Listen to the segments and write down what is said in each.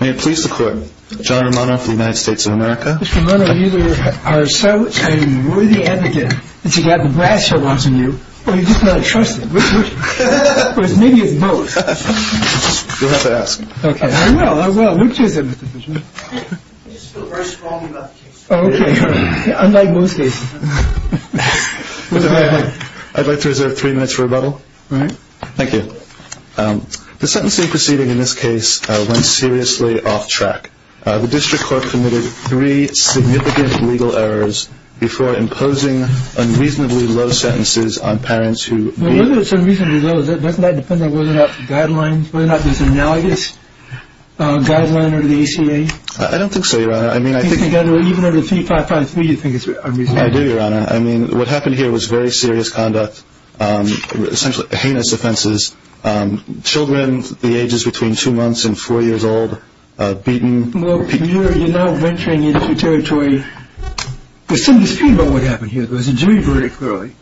May it please the court, John Romano from the United States of America. Mr. Romano, you are a silent and worthy advocate, and you have the badge I want from you, but you just don't trust me. Maybe it's both. You'll have to ask him. Okay, I will, I will. Look to you then, Mr. Bushman. I just feel very strongly about the case. Unlike both cases. I'd like to reserve three minutes for rebuttal. All right. Thank you. The sentencing proceeding in this case went seriously off track. The district court committed three significant legal errors before imposing unreasonably low sentences on parents who Doesn't that depend on whether or not the guidelines, whether or not there's an analogous guideline under the ACA? I don't think so, Your Honor. I mean, I think Even under 3553, you think it's unreasonable? I do, Your Honor. I mean, what happened here was very serious conduct, essentially heinous offenses. Children, the ages between two months and four years old, beaten. Well, you're not venturing into territory. I assume you've seen, by the way, what happened here. There's a jury verdict, clearly.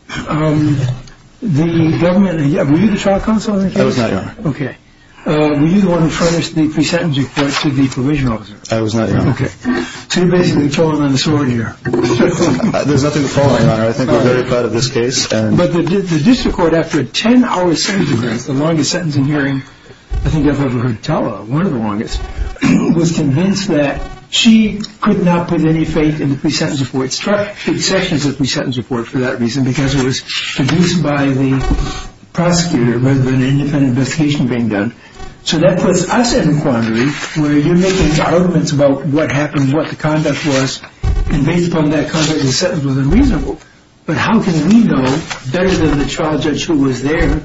The government, were you the trial counsel in that case? I was not, Your Honor. Okay. Were you the one who tried to speak the sentencing court to the provisional officer? I was not, Your Honor. Okay. So you basically told him on the sword here. There's nothing to fall on, Your Honor. I think I'm very proud of this case. But the district court, after a 10-hour sentencing hearing, the longest sentencing hearing I think I've ever heard of, one of the longest, was convinced that she could not put any faith in the pre-sentence report. It struck fixations with the pre-sentence report for that reason because it was produced by the prosecutor rather than an independent investigation being done. So that puts us in a quandary where you're making arguments about what happened, what the conduct was, and based on that, the sentence was unreasonable. But how can we know better than the trial judge who was there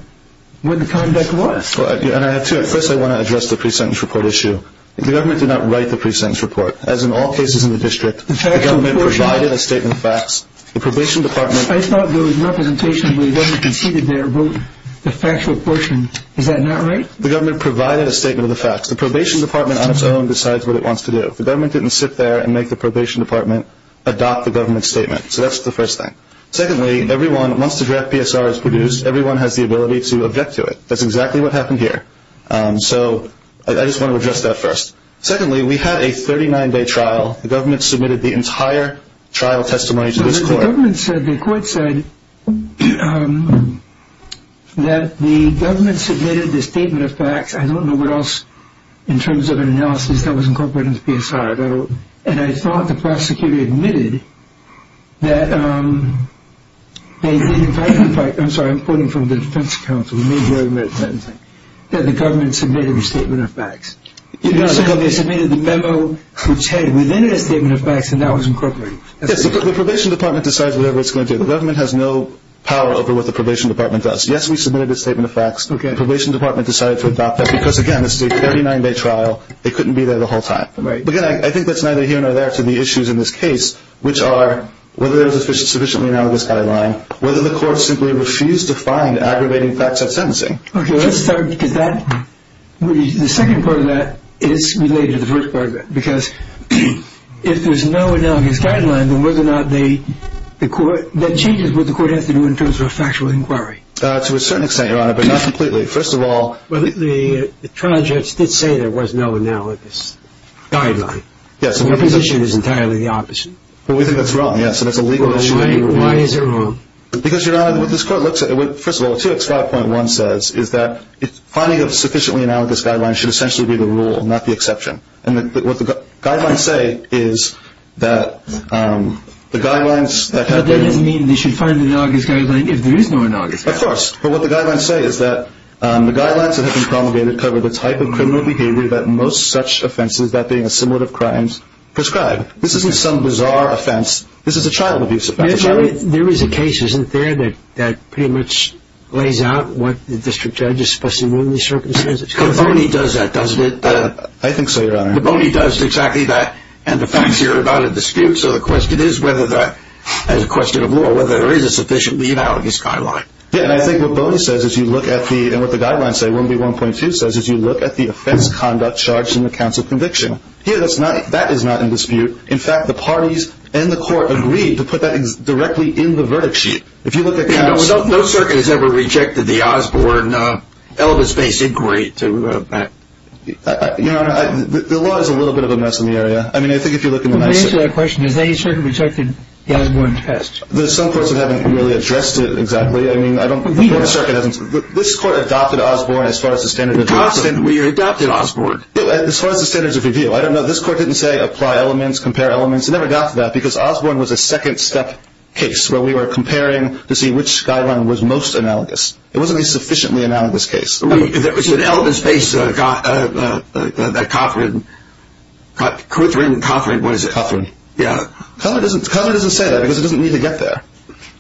what the conduct was? Well, and I have two. First, I want to address the pre-sentence report issue. The government did not write the pre-sentence report. As in all cases in the district, the government provided a statement of facts. The probation department. I thought those representations where the government was seated there wrote the factual portion. Is that not right? The government provided a statement of the facts. The probation department on its own decides what it wants to do. The government didn't sit there and make the probation department adopt the government's statement. So that's the first thing. Secondly, everyone, once the draft PSR is produced, everyone has the ability to object to it. That's exactly what happened here. So I just want to address that first. Secondly, we had a 39-day trial. The government submitted the entire trial testimony to this court. The government said, the court said that the government submitted the statement of facts. I don't know what else in terms of an analysis that was incorporated into PSR. And I thought the prosecutor admitted that they didn't write the facts. I'm sorry, I'm quoting from the defense counsel. The government submitted a statement of facts. The government submitted the memo which had within it a statement of facts, and that was incorporated. Yes, but the probation department decides whatever it's going to do. The government has no power over what the probation department does. Yes, we submitted the statement of facts. Okay. The probation department decided to adopt that because, again, this is a 39-day trial. They couldn't be there the whole time. Right. But, again, I think that's neither here nor there to the issues in this case, which are whether there's a sufficiently analogous guideline, whether the court simply refused to find aggravating facts of sentencing. Okay, let's start with that. The second part of that is related to the first part of that, because if there's no analogous guideline, then whether or not the court – that changes what the court has to do in terms of a factual inquiry. To a certain extent, Your Honor, but not completely. First of all – The trial judge did say there was no analogous guideline. Yes. And the position is entirely the opposite. But we think that's wrong, yes, and it's a legal issue. Why is it wrong? Because, Your Honor, what this court looks at – first of all, what 2X5.1 says is that finding a sufficiently analogous guideline should essentially be the rule and not the exception. And what the guidelines say is that the guidelines – But that doesn't mean you should find the analogous guideline if there is no analogous guideline. Of course. But what the guidelines say is that the guidelines that have been promulgated cover the type of criminal behavior that most such offenses, that being a similar crime, prescribe. This isn't some bizarre offense. This is a child abuse offense. There is a case, isn't there, that pretty much lays out what the district judge is supposed to do in these circumstances? The bony does that, doesn't it? I think so, Your Honor. The bony does exactly that, and the facts here are about a dispute, so the question is whether that – as a question of law, whether there is a sufficiently analogous guideline. Yes, and I think what bony says is you look at the – and what the guidelines say, 1B1.2 says, is you look at the offense conduct charts in the counts of conviction. Here, that is not in dispute. In fact, the parties and the court agreed to put that directly in the verdict sheet. If you look at the counts – No circuit has ever rejected the Osborne-Elvis-based inquiry to – Your Honor, the law is a little bit of a mess in the area. I mean, I think if you look in the – To answer that question, has any circuit rejected the Osborne test? Some courts haven't really addressed it exactly. I mean, I don't think any circuit has – This court adopted Osborne as far as the standards of review. We adopted Osborne. No, as far as the standards of review. I don't know. This court didn't say apply elements, compare elements. It never got to that because Osborne was a second-step case where we were comparing to see which guideline was most analogous. It wasn't a sufficiently analogous case. It was an Elvis-based, a cop-written – Cop-written, what is it? Cop-written. Yeah. Covenant doesn't say that because it doesn't need to get there.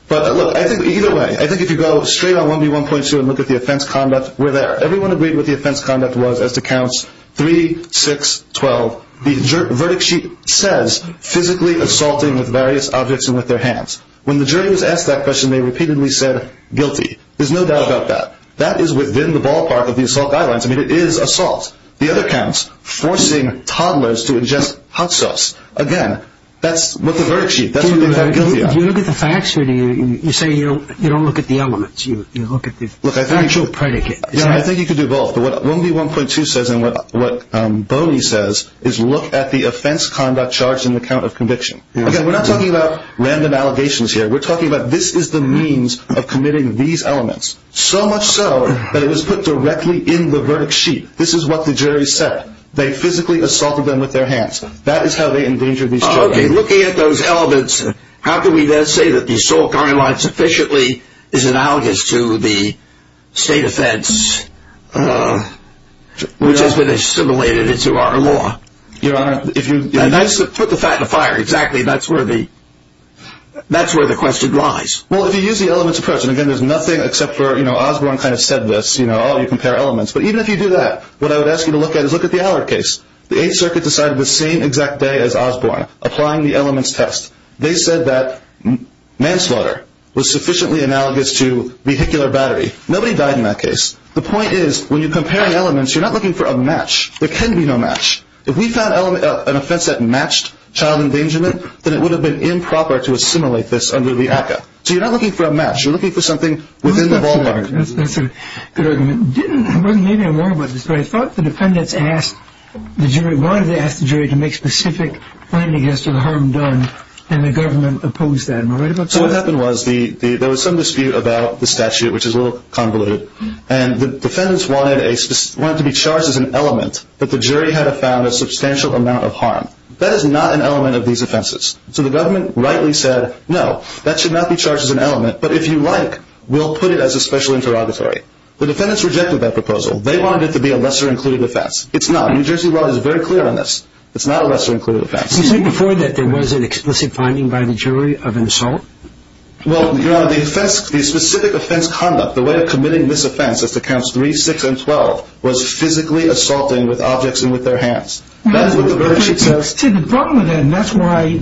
But, look, I think either way, I think if you go straight on 1B1.2 and look at the offense conduct, we're there. Everyone agreed what the offense conduct was as to counts 3, 6, 12. The verdict sheet says physically assaulting various objects and with their hands. When the jury was asked that question, they repeatedly said guilty. There's no doubt about that. That is within the ballpark of the assault guidelines. I mean, it is assault. The other counts, forcing toddlers to ingest hot sauce. Again, that's with the verdict sheet. If you look at the facts, you say you don't look at the elements. You look at the actual predicate. I think you could do both. What 1B1.2 says and what Boney says is look at the offense conduct charged in the count of conviction. Again, we're not talking about random allegations here. We're talking about this is the means of committing these elements, so much so that it was put directly in the verdict sheet. This is what the jury said. They physically assaulted them with their hands. That is how they endangered these children. Okay, looking at those elements, how can we then say that the assault guidelines sufficiently is analogous to the state offense which has been assimilated into our law? Your Honor, if you put the fact to fire exactly, that's where the question lies. Well, if you use the elements of precedent, again, there's nothing except for Osborne kind of said this. All you compare elements. But even if you do that, what I would ask you to look at is look at the Allard case. The Eighth Circuit decided the same exact day as Osborne, applying the elements test. They said that manslaughter was sufficiently analogous to vehicular battery. Nobody died in that case. The point is when you compare elements, you're not looking for a match. There can be no match. If we found an offense that matched child endangerment, then it would have been improper to assimilate this under the ACCA. So you're not looking for a match. You're looking for something within the ballpark. That's a good argument. Maybe I'm wrong about this, but I thought the defendants wanted to ask the jury to make specific findings as to the harm done, and the government opposed that. So what happened was there was some dispute about the statute, which is a little convoluted, and the defendants wanted it to be charged as an element, but the jury had found a substantial amount of harm. That is not an element of these offenses. So the government rightly said, no, that should not be charged as an element, but if you like, we'll put it as a special interrogatory. The defendants rejected that proposal. They wanted it to be a lesser-included offense. It's not. New Jersey law is very clear on this. It's not a lesser-included offense. Did you say before that there was an explicit finding by the jury of an assault? Well, Your Honor, the specific offense conduct, the way of committing this offense, as to counts 3, 6, and 12, was physically assaulting with objects and with their hands. See, the problem with that, and that's why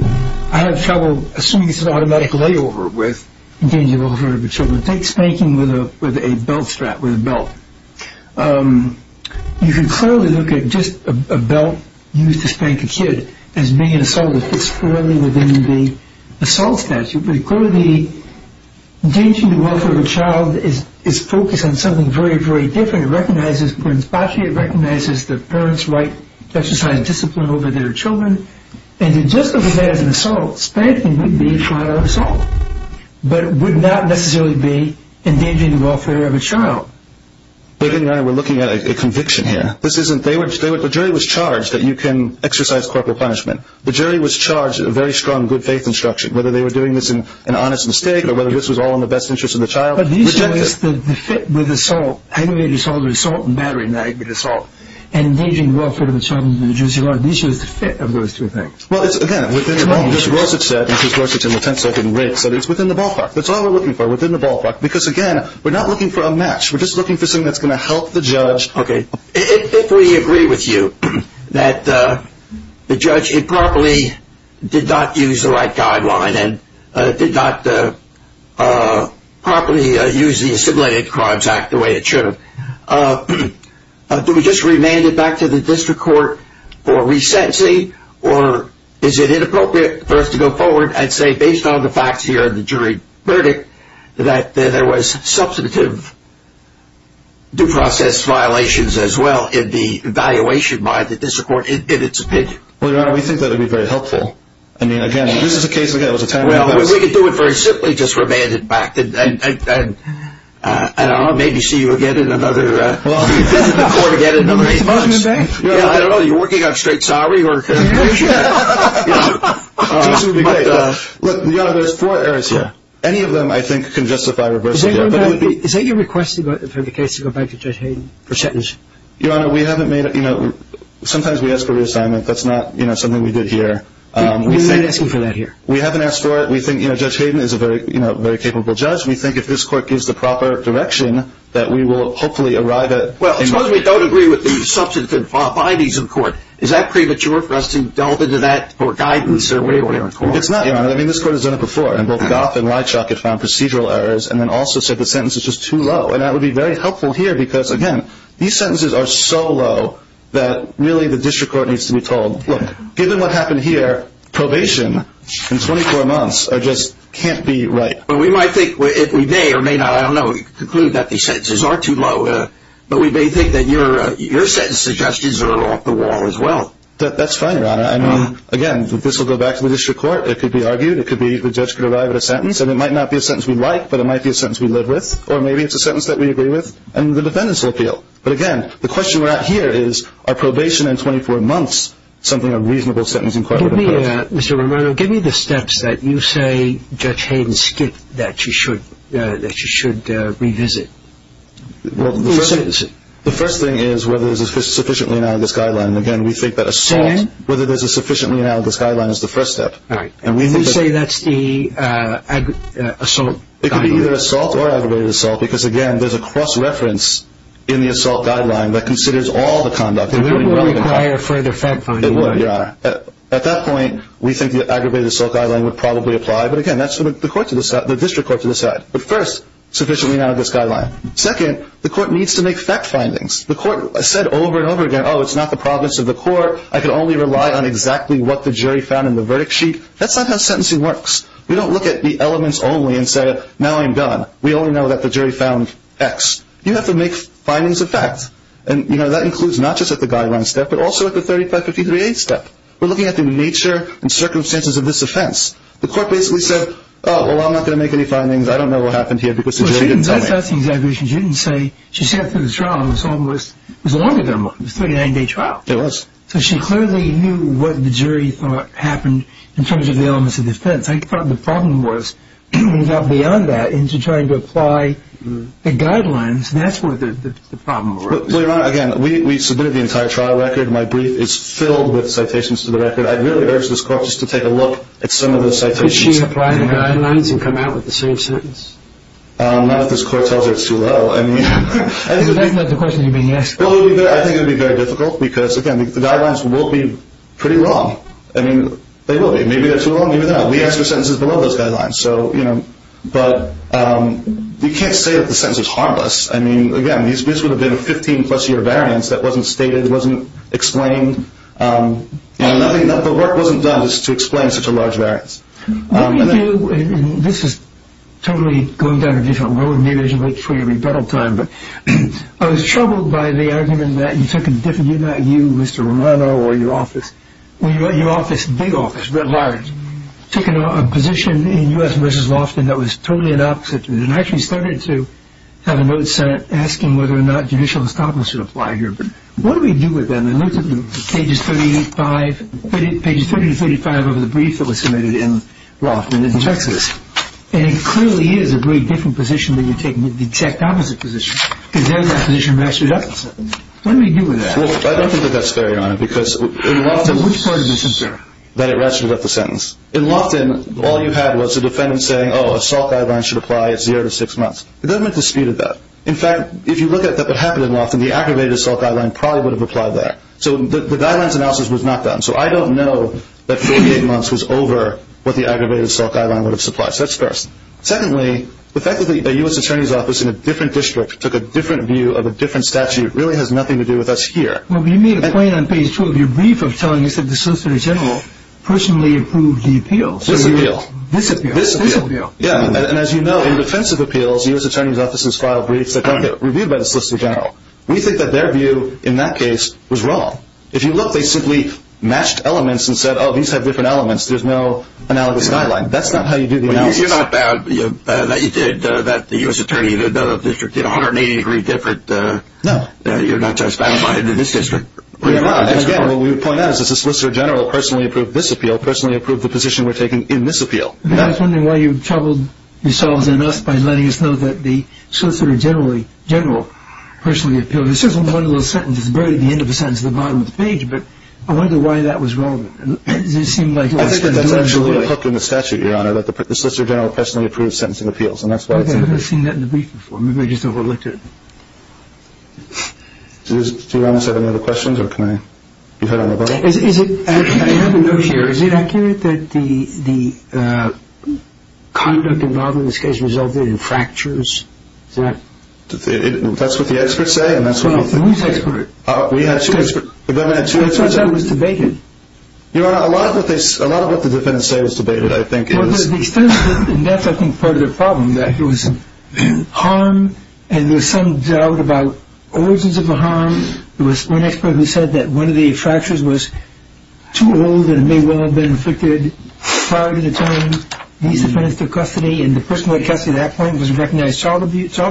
I have trouble assuming it's an automatic layover with danger to the welfare of a child. It's like spanking with a belt strap or a belt. You can clearly look at just a belt used to spank a kid as being an assault. It fits clearly within the assault statute. But the danger to the welfare of a child is focused on something very, very different. It recognizes the parent's right to exercise discipline over their children. And just because he has an assault, spanking would be a trial of assault, but would not necessarily be endangering the welfare of a child. But, again, Your Honor, we're looking at a conviction here. The jury was charged that you can exercise corporal punishment. The jury was charged with a very strong good-faith instruction, whether they were doing this an honest mistake or whether this was all in the best interest of the child. But the issue is the fit with assault, animated assault or assault in battery, not animated assault, and engaging the welfare of a child under the jurisdiction of the court. The issue is the fit of those two things. Well, again, we're thinking about what Judge Roseth said, and Judge Roseth in the tenth-second read said it's within the ballpark. That's all we're looking for, within the ballpark. Because, again, we're not looking for a match. We're just looking for something that's going to help the judge. Okay. If we agree with you that the judge improperly did not use the right guideline and did not properly use the Assimilated Crimes Act the way it should have, do we just remand it back to the district court for resentencing, or is it inappropriate for us to go forward and say, based on the facts here in the jury verdict, that there was substantive due process violations as well in the evaluation by the district court in its opinion? Well, Your Honor, we think that would be very helpful. I mean, again, if this is the case, again, it was a ten-minute argument. Well, if we could do it very simply, just remand it back, and I don't know, maybe see you again in another – I don't know, are you working on a straight salary? This would be great. Look, Your Honor, there's four areas here. Any of them, I think, can justify reversing it. Is there any request for the case to go back to Judge Hayden for sentencing? Your Honor, we haven't made – you know, sometimes we ask for reassignment. That's not, you know, something we did here. We haven't asked for that here. We haven't asked for it. We think, you know, Judge Hayden is a very capable judge. We think if this court gives the proper direction that we will hopefully arrive at – Well, as long as we don't agree with the substantive violations of the court, is that premature for us to delve into that for guidance or where we are in court? It's not, Your Honor. I mean, this court has done it before, and both Goff and Weitschok have found procedural errors and then also said the sentence is just too low, and that would be very helpful here because, again, these sentences are so low that really the district court needs to be told, look, given what happened here, probation in 24 months just can't be right. But we might think – we may or may not, I don't know, conclude that these sentences are too low, but we may think that your sentence suggestions are a little off the wall as well. That's fine, Your Honor. I mean, again, this will go back to the district court. It could be argued. It could be the judge could arrive at a sentence, and it might not be a sentence we like, but it might be a sentence we live with, or maybe it's a sentence that we agree with, and the defendants will appeal. But, again, the question we're at here is, are probation and 24 months something a reasonable sentence in court? Mr. Romero, give me the steps that you say Judge Hayden skipped that she should revisit. Well, the first thing is whether there's a sufficiently analogous guideline. Again, we think that assault, whether there's a sufficiently analogous guideline is the first step. All right. And you say that's the assault guideline. It could be either assault or aggravated assault because, again, there's a cross-reference in the assault guideline that considers all the conduct. It wouldn't require a further fact-finding, would it, Your Honor? It wouldn't, Your Honor. At that point, we think the aggravated assault guideline would probably apply, but, again, that's the district court to decide. But first, sufficiently analogous guideline. Second, the court needs to make fact findings. The court said over and over again, oh, it's not the province of the court. I can only rely on exactly what the jury found in the verdict sheet. That's not how sentencing works. We don't look at the elements only and say, now I'm done. We only know that the jury found X. You have to make findings of fact. And, you know, that includes not just at the guideline step but also at the 3553A step. We're looking at the nature and circumstances of this offense. The court basically said, oh, well, I'm not going to make any findings. I don't know what happened here because the jury didn't tell me. So she didn't make any exaggerations. She didn't say she sat through the trial. It was a long-term one. It was a 39-day trial. It was. So she clearly knew what the jury thought happened in terms of the elements of defense. I thought the problem was we got beyond that into trying to apply the guidelines, and that's where the problem was. Wait a minute. Again, we submitted the entire trial record. My brief is filled with citations to the record. I really urge this court just to take a look at some of the citations. Did she apply the guidelines and come out with the same sentence? Not if this court tells her it's too low. I mean, I think it would be very difficult because, again, the guidelines will be pretty wrong. I mean, they will be. Maybe they're too low. Maybe they're not. We ask for sentences below those guidelines. But you can't say that the sentence is harmless. I mean, again, this would have been a 15-plus-year variance that wasn't stated, wasn't explained. The work wasn't done to explain such a large variance. This is totally going down a different road. Maybe I should wait for your rebuttal time. But I was troubled by the argument that you took a different view, not you, Mr. Romano, or your office. Your office, big office, very large, took a position in U.S. v. Loftin that was totally inopposite to it and actually started to have a note sent asking whether or not judicial establishment would apply here. But what do we do with that? I looked at Pages 30 and 35 of the brief that was submitted in Loftin in Texas, and it clearly is a very different position than you take the checked opposite position, because then that position matches up. What do we do with that? I don't think that that's fair, Your Honor, because in Loftin, all you had was a defendant saying, oh, a SALT guideline should apply, it's zero to six months. It doesn't dispute that. In fact, if you look at what happened in Loftin, the aggravated SALT guideline probably would have applied there. So the guidelines analysis was not done. So I don't know that 48 months was over what the aggravated SALT guideline would have supplied. So that's first. Secondly, the fact that a U.S. attorney's office in a different district took a different view of a different statute really has nothing to do with us here. Well, you made a point on Page 12 of your brief of telling us that the Solicitor General personally approved the appeal. This appeal. This appeal. This appeal. Yeah, and as you know, in defensive appeals, U.S. attorneys' offices file briefs that don't get reviewed by the Solicitor General. We think that their view in that case was wrong. If you look, they simply matched elements and said, oh, these have different elements, there's no analogous guideline. That's not how you do the analysis. Well, you're not saying that the U.S. attorney in another district did a 180-degree different. No. You're not just saying that in this district. Well, you are. Again, what we would point out is that the Solicitor General personally approved this appeal, personally approved the position we're taking in this appeal. I was wondering why you troubled yourselves enough by letting us know that the Solicitor General personally appealed. It's sort of a marvelous sentence. It's buried at the end of the sentence at the bottom of the page, but I wonder why that was relevant. I think that that's actually what it says in the statute, Your Honor, that the Solicitor General personally approved sentencing appeals. I've never seen that in the brief before. Maybe I just overlooked it. Do you want to answer any other questions? I have a note here. Is it accurate that the conduct involved in this case resulted in fractures? That's what the experts say. Who's the expert? We have two experts. That's not how it was debated. Your Honor, a lot of what the defendants say was debated, I think. Well, the defense, and that's, I think, part of the problem, that there was harm and there was some doubt about origins of the harm. There was one expert who said that one of the fractures was too old and it may well have been inflicted prior to the time these defendants took custody, and the person who took custody at that point was a recognized child abuser.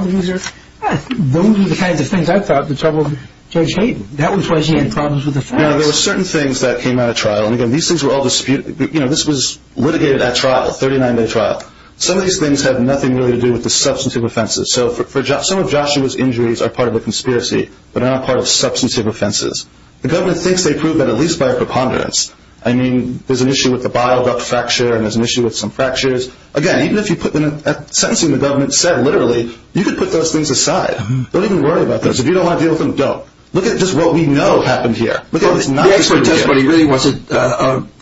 Those are the kinds of things I thought would trouble Judge Hayden. That was why he had problems with the facts. There were certain things that came out of trial. These things were all disputed. This was litigated at trial, a 39-day trial. Some of these things had nothing really to do with the substantive offenses. So some of Joshua's injuries are part of a conspiracy, but they're not part of substantive offenses. The government thinks they prove that at least by a preponderance. I mean, there's an issue with the bottled-up fracture and there's an issue with some fractures. Again, even if you put them in a sentence, I've seen the government say literally, you can put those things aside. Don't even worry about those. If you don't want to deal with them, don't. Look at just what we know happened here. The expert just really wasn't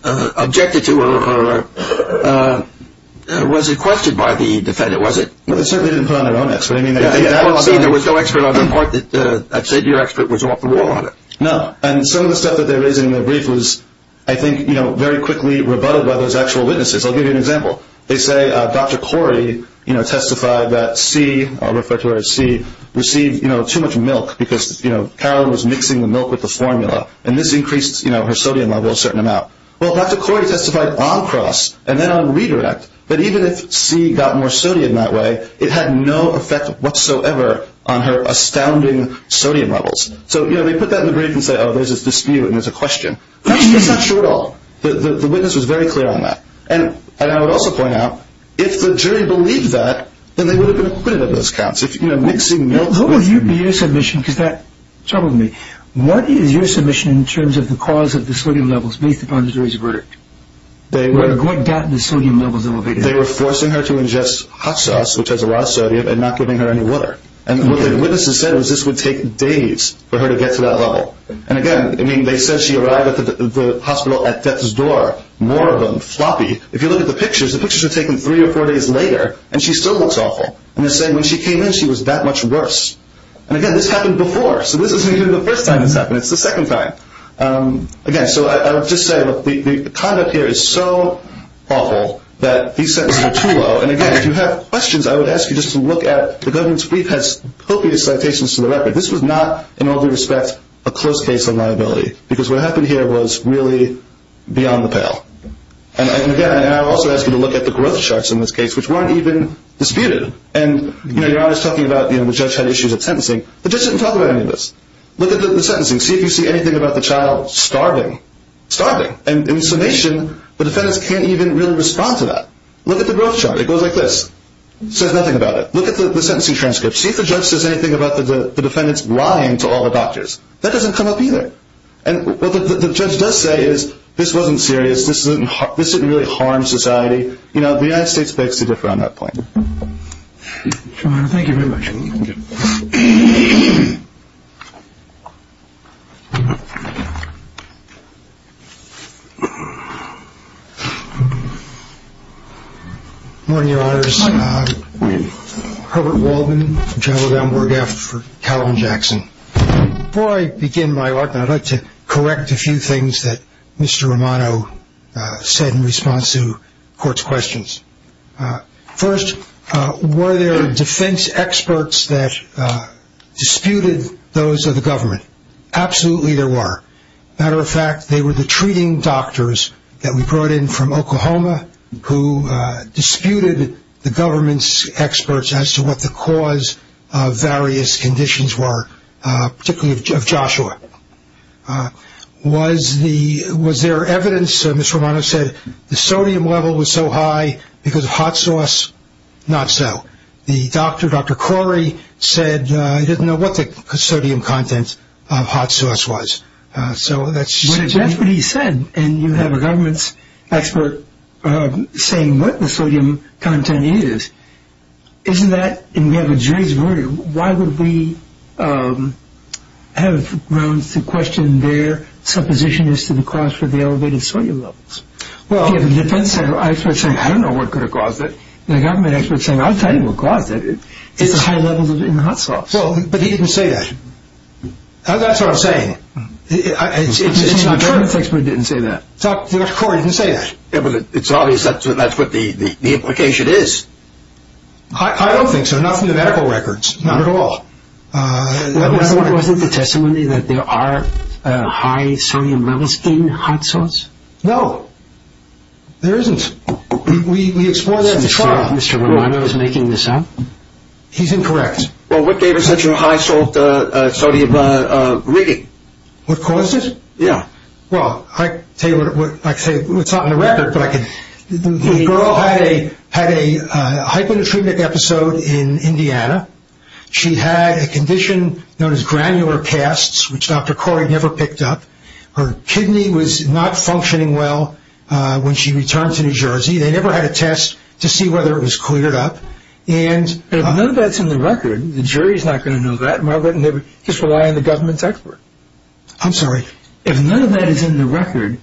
objected to or was requested by the defendant, was he? Well, they certainly didn't put on their own expert. I mean, there was no expert on the part that I'd say the expert was off the wall on it. No, and some of the stuff that they raised in their brief was, I think, very quickly rebutted by those actual witnesses. I'll give you an example. They say, Dr. Corey testified that C, a refractory of C, received too much milk because Carolyn was mixing the milk with the formula, and this increased her sodium levels a certain amount. Well, Dr. Corey testified on cross and then on redirect that even if C got more sodium that way, it had no effect whatsoever on her astounding sodium levels. So they put that in the brief and said, oh, there's a dispute and there's a question. I'm not sure at all. The witness was very clear on that. And I would also point out, if the jury believed that, then they would have been acquitted of those counts. If, you know, mixing milk with the formula. How about your submission, because that troubled me. What is your submission in terms of the cause of the sodium levels, based upon the jury's verdict? What got the sodium levels elevated? They were forcing her to ingest hot sauce, which has a lot of sodium, and not giving her any water. And the witness has said this would take days for her to get to that level. And again, I mean, they said she arrived at the hospital at death's door, more of them, floppy. If you look at the pictures, the pictures were taken three or four days later, and she still looks awful. And they said when she came in, she was that much worse. And again, this happened before, so this isn't even the first time it's happened. It's the second time. Again, so I would just say, look, the conduct here is so awful that these sentences are too low. And again, if you have questions, I would ask you just to look at the evidence brief. It has filthy dissertations to the record. This was not, in all due respect, a close case of liability, because what happened here was really beyond the pale. And again, I would also ask you to look at the growth charts in this case, which weren't even disputed. And, you know, you're always talking about, you know, the judge had issues of sentencing. The judge doesn't talk about any of this. Look at the sentencing. See if you see anything about the child starving. Starving. And in summation, the defendant can't even really respond to that. Look at the growth chart. It goes like this. Says nothing about it. Look at the sentencing transcript. See if the judge does anything about the defendant's lying to all the doctors. That doesn't come up either. And what the judge does say is, this wasn't serious. This didn't really harm society. You know, the United States is basically different on that point. Thank you very much. Thank you. Good morning, Your Honors. Herbert Waldman, General Dunbar-Gaffert for Calvin Jackson. Before I begin my work, I'd like to correct a few things that Mr. Romano said in response to court's questions. First, were there defense experts that disputed those of the government? Absolutely there were. Matter of fact, they were the treating doctors that we brought in from Oklahoma, who disputed the government's experts as to what the cause of various conditions were, particularly of Joshua. Was there evidence, as Mr. Romano said, the sodium level was so high because of hot sauce? Not so. The doctor, Dr. Corey, said he didn't know what the sodium content of hot sauce was. That's what he said, and you have a government expert saying what the sodium content is. Isn't that, and you have a jury's verdict, why would we have grounds to question their supposition as to the cause for the elevated sodium levels? Well, I don't know what could have caused it. The government expert said, I'll tell you what caused it. It's the high levels in the hot sauce. Well, but he didn't say that. That's what I'm saying. The expert didn't say that. Dr. Corey didn't say that. It's obvious that's what the implication is. I don't think so. Not from the medical records. Not at all. There wasn't a testimony that there are high sodium levels in hot sauce? No. There isn't. We explored that in the trial. Mr. Romano is making this up. He's incorrect. Well, what gave it such a high sodium reading? What caused it? Yeah. Well, I can tell you what's not in the record. The girl had a hypodermic episode in Indiana. She had a condition known as granular casts, which Dr. Corey never picked up. Her kidney was not functioning well when she returned to New Jersey. They never had a test to see whether it was cleared up. If none of that's in the record, the jury's not going to know that, Margaret, and they would just rely on the government expert. I'm sorry. If none of that is in the record,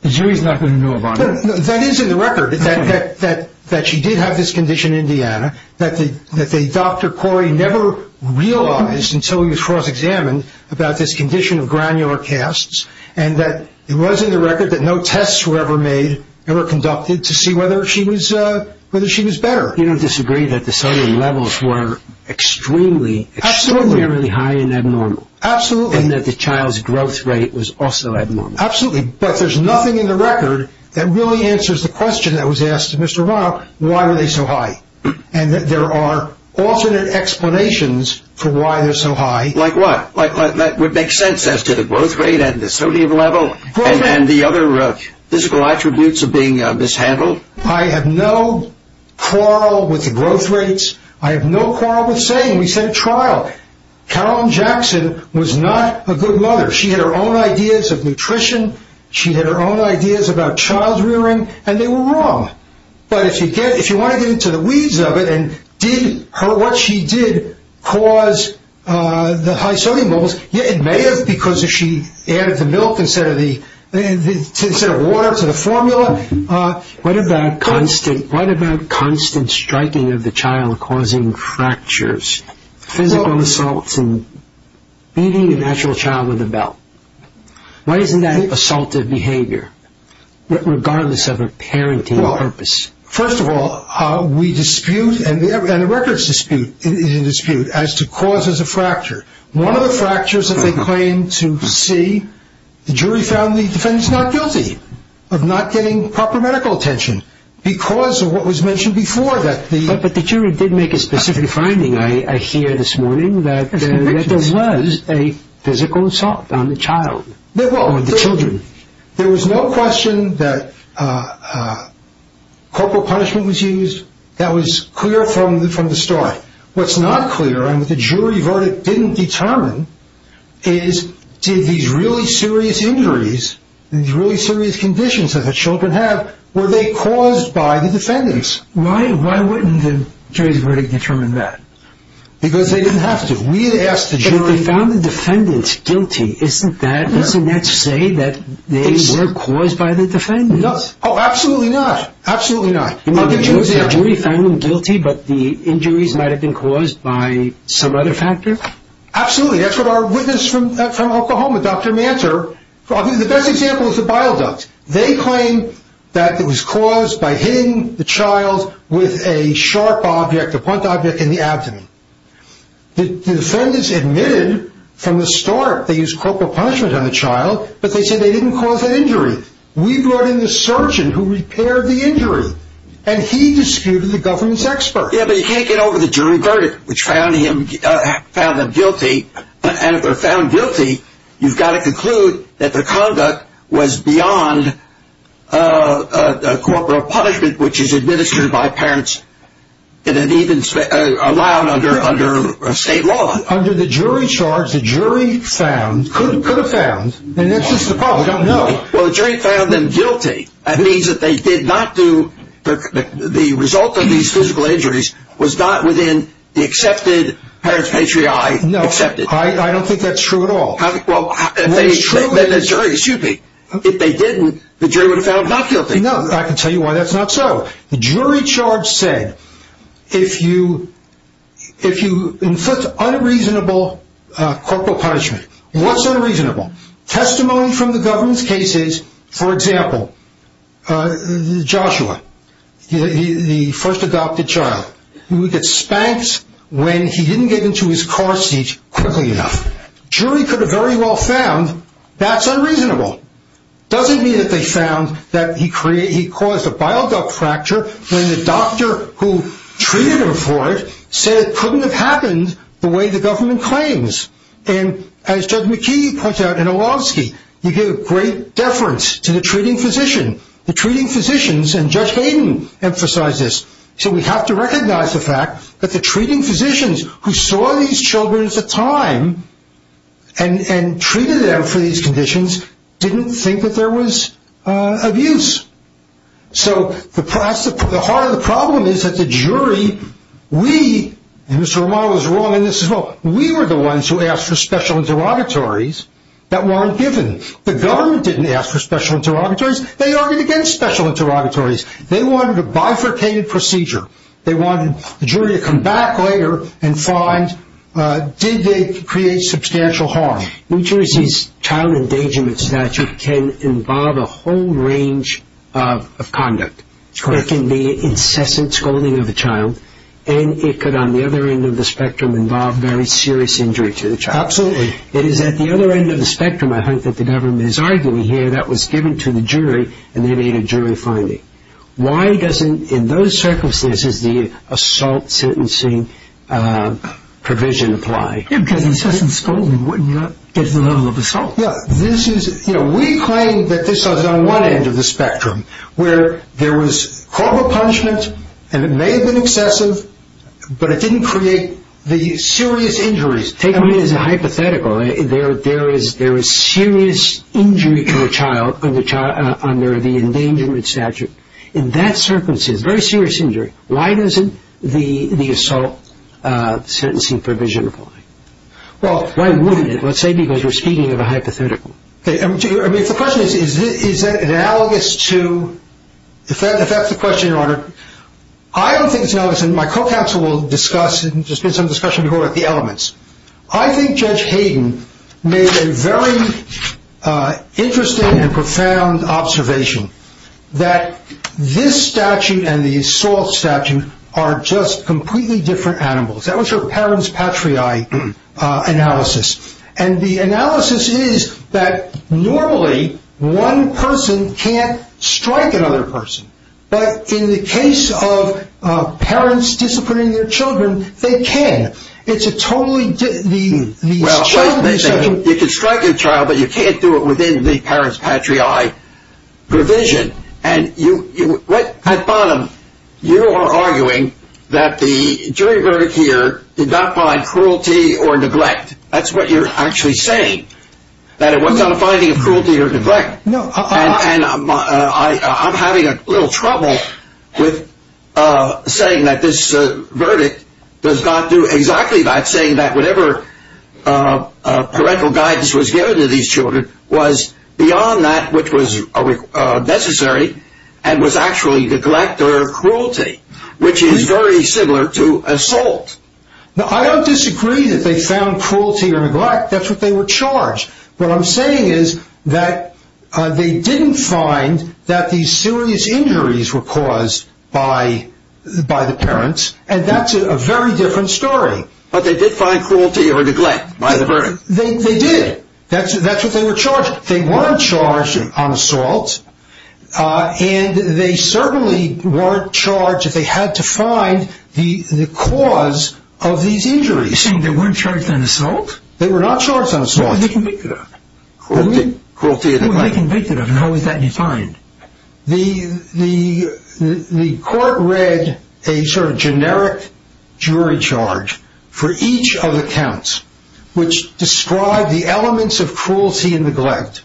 the jury's not going to know about it. That is in the record, that she did have this condition in Indiana, that Dr. Corey never realized until he was cross-examined about this condition of granular casts, and that it was in the record that no tests were ever made, never conducted, to see whether she was better. You don't disagree that the sodium levels were extremely, extraordinarily high and abnormal. Absolutely. And that the child's growth rate was also abnormal. Absolutely. But there's nothing in the record that really answers the question that was asked to Mr. Romano, why were they so high, and that there are alternate explanations for why they're so high. Like what? Like what makes sense as to the growth rate and the sodium level and the other physical attributes of being mishandled? I have no quarrel with the growth rates. I have no quarrel with saying we sent a trial. Carolyn Jackson was not a good mother. She had her own ideas of nutrition. She had her own ideas about child-rearing, and they were wrong. But if you want to get into the weeds of it, and did what she did cause the high sodium levels, it may have because she added the milk instead of water to the formula. What about constant striking of the child causing fractures? Physical assaults and beating an actual child with a belt. Why isn't that an assaultive behavior, regardless of a parenting purpose? Well, first of all, we dispute, and the records dispute, is in dispute as to causes of fracture. One of the fractures that they claim to see, the jury found the defendants not guilty of not getting proper medical attention because of what was mentioned before that thing. But the jury did make a specific finding, I hear this morning, that there was a physical assault on the child, on the children. There was no question that corporal punishment was used. That was clear from the start. What's not clear, and the jury verdict didn't determine, is did these really serious injuries, these really serious conditions that the children have, were they caused by the defendants? Why wouldn't the jury's verdict determine that? Because they didn't have to. If they found the defendants guilty, doesn't that say that they were caused by the defendants? No. Oh, absolutely not. Absolutely not. The jury found them guilty, but the injuries might have been caused by some other factor? Absolutely. That's what our witness from Oklahoma, Dr. Mantor, the best example is the bile duct. They claim that it was caused by hitting the child with a sharp object, a blunt object, in the abdomen. The defendants admitted from the start they used corporal punishment on the child, but they said they didn't cause that injury. We brought in the surgeon who repaired the injury, and he disputed the government's experts. Yeah, but you can't get over the jury verdict, which found him guilty, and if they're found guilty, you've got to conclude that the conduct was beyond corporal punishment, which is administered by parents and even allowed under state law. Under the jury charge, the jury found, could have found, and this is the problem. No. Well, the jury found them guilty. That means that they did not do, the result of these physical injuries No. I don't think that's true at all. No, it's true. Excuse me. If they didn't, the jury would have found them not guilty. No, I can tell you why that's not so. The jury charge said, if you inflict unreasonable corporal punishment, what's unreasonable? Testimony from the government's cases, for example, Joshua, the first adopted child. He would get spanked when he didn't get into his car seat quickly enough. The jury could have very well found that's unreasonable. Doesn't mean that they found that he caused a bile duct fracture when the doctor who treated him for it said it couldn't have happened the way the government claims. And as Judge McKee points out in Olowski, you give great deference to the treating physician. The treating physicians, and Judge Hayden emphasized this, said we have to recognize the fact that the treating physicians who saw these children at the time, and treated them for these conditions, didn't think that there was abuse. So, the heart of the problem is that the jury, we, and Mr. Romano is wrong and this is wrong, we were the ones who asked for special interrogatories that weren't given. The government didn't ask for special interrogatories. They argued against special interrogatories. They wanted a bifurcated procedure. They wanted the jury to come back later And five, did they create substantial harm? New Jersey's child endangerment statute can involve a whole range of conduct. There can be incessant scolding of the child and it could, on the other end of the spectrum, involve very serious injury to the child. It is at the other end of the spectrum, I think, that the government is arguing here that was given to the jury and they need a jury finding. Why doesn't, in those circumstances, this is the assault sentencing provision apply? Yeah, because the incessant scolding would not get the level of assault. Yeah, this is, you know, we claim that this is on one end of the spectrum, where there was horrible punishment and it may have been excessive, but it didn't create the serious injuries. Take it as a hypothetical. There is serious injury to a child under the endangerment statute. In that circumstance, very serious injury, why doesn't the assault sentencing provision apply? Well, why wouldn't it, let's say, because you're speaking of a hypothetical. I mean, the question is, is that analogous to... If that's the question, Your Honor, I don't think it's analogous, and my co-counsel will discuss, and there's been some discussion about the elements. I think Judge Hayden made a very interesting and profound observation, that this statute and the assault statute are just completely different animals. That was her parents' patriae analysis, and the analysis is that normally, one person can't strike another person, but in the case of parents disciplining their children, they can. It's a totally different... Well, you can strike your child, but you can't do it within the parents' patriae provision. And you... Pat Bonham, you are arguing that the jury verdict here did not find cruelty or neglect. That's what you're actually saying, that it was not finding cruelty or neglect. And I'm having a little trouble with saying that this verdict does not do exactly that, I'm saying that whatever parental guidance was given to these children was beyond that which was necessary, and was actually neglect or cruelty, which is very similar to assault. I don't disagree that they found cruelty or neglect, that's what they were charged. What I'm saying is that they didn't find that these serious injuries were caused by the parents, and that's a very different story. But they did find cruelty or neglect by the verdict. They did. That's what they were charged with. They weren't charged on assault, and they certainly weren't charged that they had to find the cause of these injuries. You're saying they weren't charged on assault? They were not charged on assault. Who were they convicted of? Who were they convicted of, and how was that defined? The court read a sort of generic jury charge for each of the counts, which described the elements of cruelty and neglect.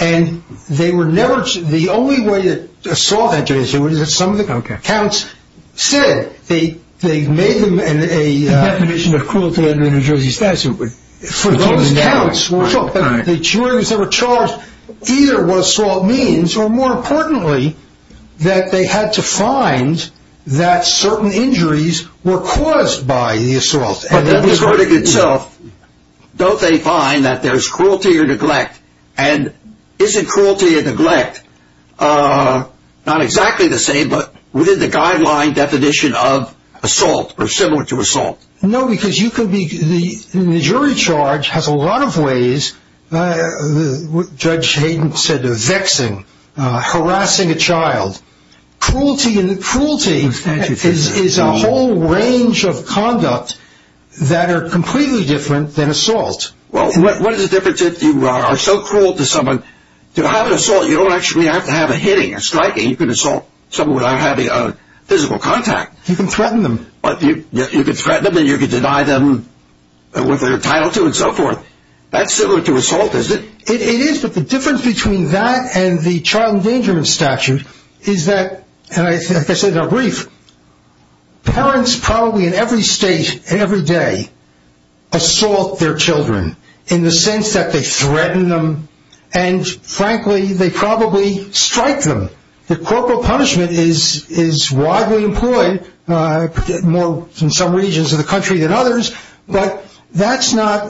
And they were never... The only way that assault had to be assumed is that some of the counts said they made them a... The definition of cruelty and neglect is usually specific, but for those counts, the jury was never charged either what assault means or, more importantly, that they had to find that certain injuries were caused by the assault. But that's the verdict itself. Don't they find that there's cruelty or neglect? And isn't cruelty or neglect not exactly the same, but within the guideline definition of assault or similar to assault? No, because you can be... The jury charge has a lot of ways... Judge Hayden said they're vexing, harassing a child. Cruelty is a whole range of conduct that are completely different than assault. Well, what is the difference if you are so cruel to someone? To have an assault, you don't actually have to have a hitting, a striking. You can assault someone without having physical contact. You can threaten them. You can threaten them and you can deny them what they're entitled to and so forth. That's similar to assault, is it? It is, but the difference between that and the child endangerment statute is that, and I guess in a brief, parents probably in every state and every day assault their children in the sense that they threaten them and, frankly, they probably strike them. The corporal punishment is widely employed more in some regions of the country than others, but that's not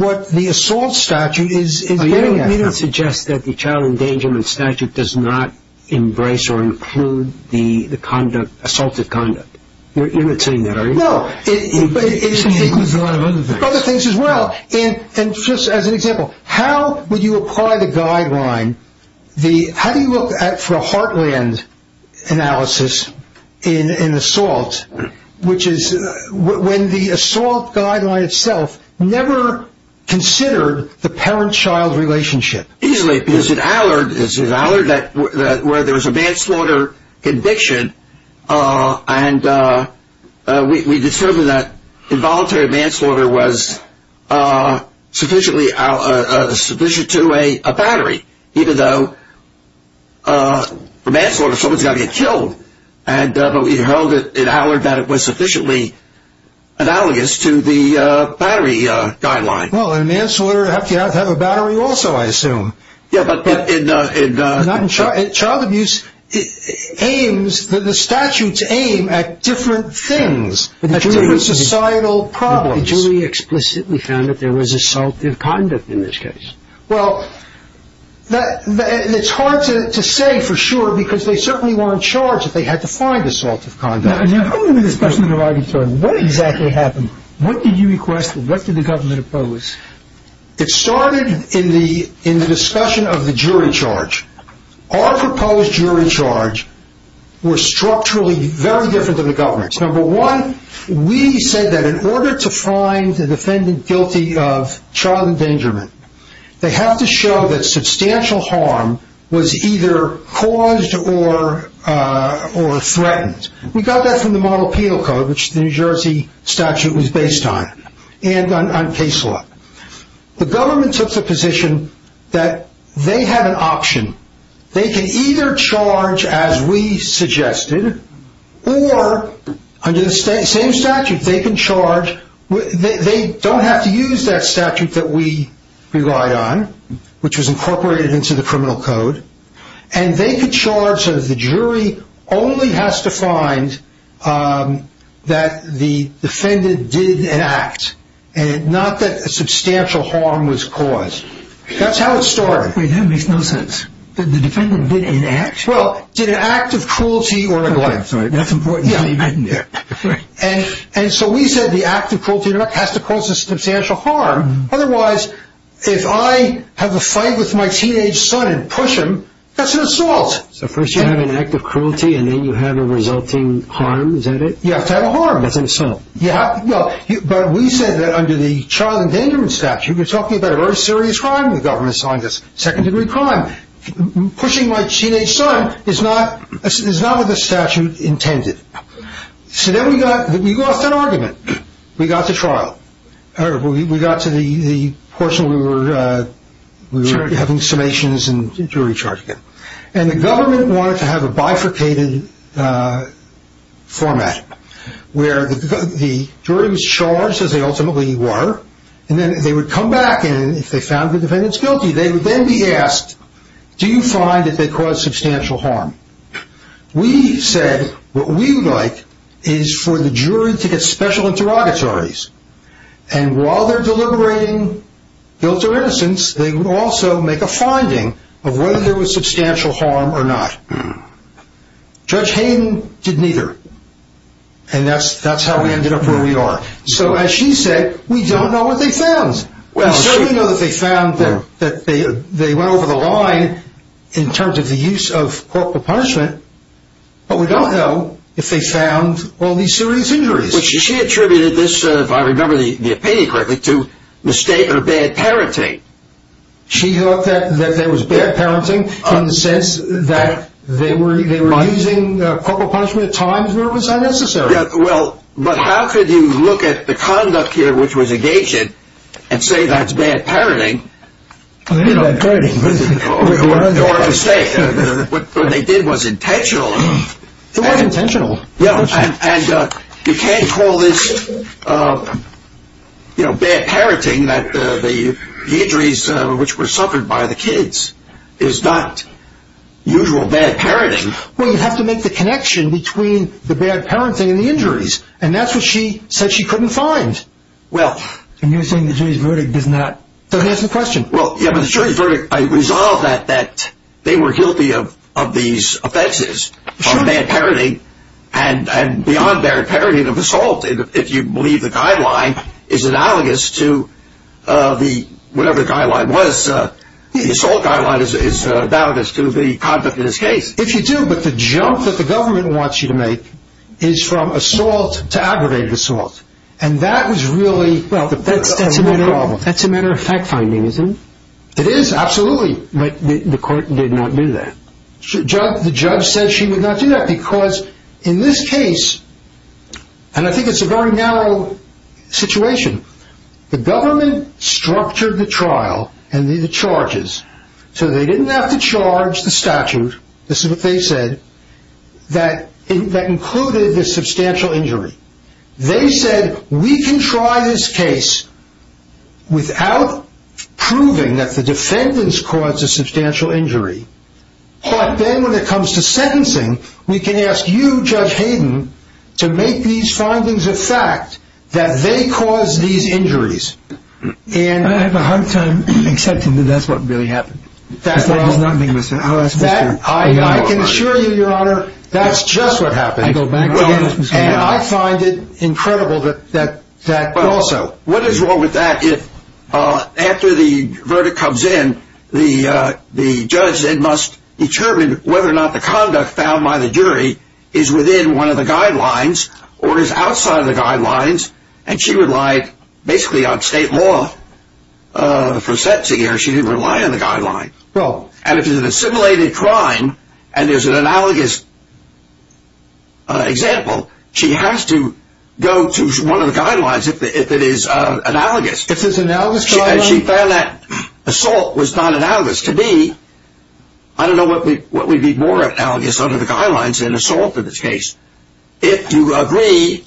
what the assault statute is... But you don't suggest that the child endangerment statute does not embrace or include the assaultive conduct. You're imitating that, are you? No. It's the equivalent of the honor of other things. Other things as well. And just as an example, how would you apply the guideline? How do you look at, for a heartland analysis in assault, which is when the assault guideline itself never considered the parent-child relationship? Easily, because it's an allure where there was a manslaughter conviction and we discovered that involuntary manslaughter was sufficient to a battery, even though for manslaughter, someone's got to get killed, and we found in Howard that it was sufficiently analogous to the battery guideline. Well, a manslaughter has to have a battery also, I assume. Yeah, but in... In child abuse, the statute aims at different things, at different societal problems. The jury explicitly found that there was assaultive conduct in this case. Well, that... And it's hard to say for sure because they certainly were in charge that they had to find assaultive conduct. Now, how do we discuss the guideline? What exactly happened? What did you request? What did the government oppose? It started in the discussion of the jury charge. Our proposed jury charge was structurally very different than the government's. Number one, we said that in order to find the defendant guilty of child endangerment, they have to show that substantial harm was either caused or threatened. We got that from the Moral Penal Code, which the New Jersey statute was based on, and on case law. The government took the position that they had an option. They can either charge as we suggested or under the same statute, they can charge... They don't have to use that statute that we relied on, which was incorporated into the criminal code. And they could charge that the jury only has to find that the defendant did an act and not that substantial harm was caused. That's how it started. Wait, that makes no sense. The defendant did an act? Well, did an act of cruelty... That's important. And so we said the act of cruelty has to cause a substantial harm. Otherwise, if I have a fight with my teenage son and push him, that's an assault. So first you have an act of cruelty and then you have a resulting harm, is that it? You have to have a harm. That's an assault. But we said that under the child endangerment statute, you're talking about a very serious crime. The government assigned this second-degree crime. Pushing my teenage son is not what the statute intended. So then we lost an argument. We got to trial. We got to the portion where we were having summations and jury charges. And the government wanted to have a bifurcated format where the jury was charged, as they ultimately were, and then they would come back and if they found the defendant's guilty, they would then be asked, do you find that they caused substantial harm? We said what we would like is for the jury to get special interrogatories. And while they're deliberating guilt or innocence, they would also make a finding of whether there was substantial harm or not. Judge Hayden did neither. And that's how we ended up where we are. So as she said, we don't know what they found. We do know that they found that they went over the line in terms of the use of corporal punishment, but we don't know if they found all these serious injuries. She attributed this, if I remember the opinion correctly, to the state of bad parenting. She thought that there was bad parenting in the sense that they were using corporal punishment at times when it was not necessary. But how could you look at the conduct here, which was engaging, and say that's bad parenting? It is bad parenting. What they did was intentional. It was intentional. And you can't call this, you know, bad parenting, that the injuries which were suffered by the kids is not usual bad parenting. between the bad parenting and the injuries, and that's what she said she couldn't find. And you're saying the jury's verdict did not... Go ahead and ask the question. The jury's verdict resolved that they were guilty of these offenses, of bad parenting, and beyond bad parenting of assault, if you believe the guideline is analogous to whatever the guideline was. The assault guideline is analogous to the conduct of this case. If you do, but the jump that the government wants you to make is from assault to aggravated assault. And that was really... That's a matter of fact-finding, isn't it? It is, absolutely. The court did not do that. The judge said she did not do that because in this case, and I think it's a very narrow situation, the government structured the trial and the charges so they didn't have to charge the statute, this is what they said, that included the substantial injury. They said, we can try this case without proving that the defendants caused a substantial injury, but then when it comes to sentencing, we can ask you, Judge Hayden, to make these findings a fact that they caused these injuries. I have a hard time accepting that that's what really happened. I can assure you, Your Honour, that's just what happened. And I find it incredible that that's also... What is wrong with that is after the verdict comes in, the judge then must determine whether or not the conduct found by the jury is within one of the guidelines or is outside of the guidelines, and she relied basically on state law for sentencing. She didn't rely on the guidelines. And if it's an assimilated crime and there's an analogous example, she has to go to one of the guidelines if it is analogous. She found that assault was not analogous. To me, I don't know what would be more analogous under the guidelines than assault in this case, if you agree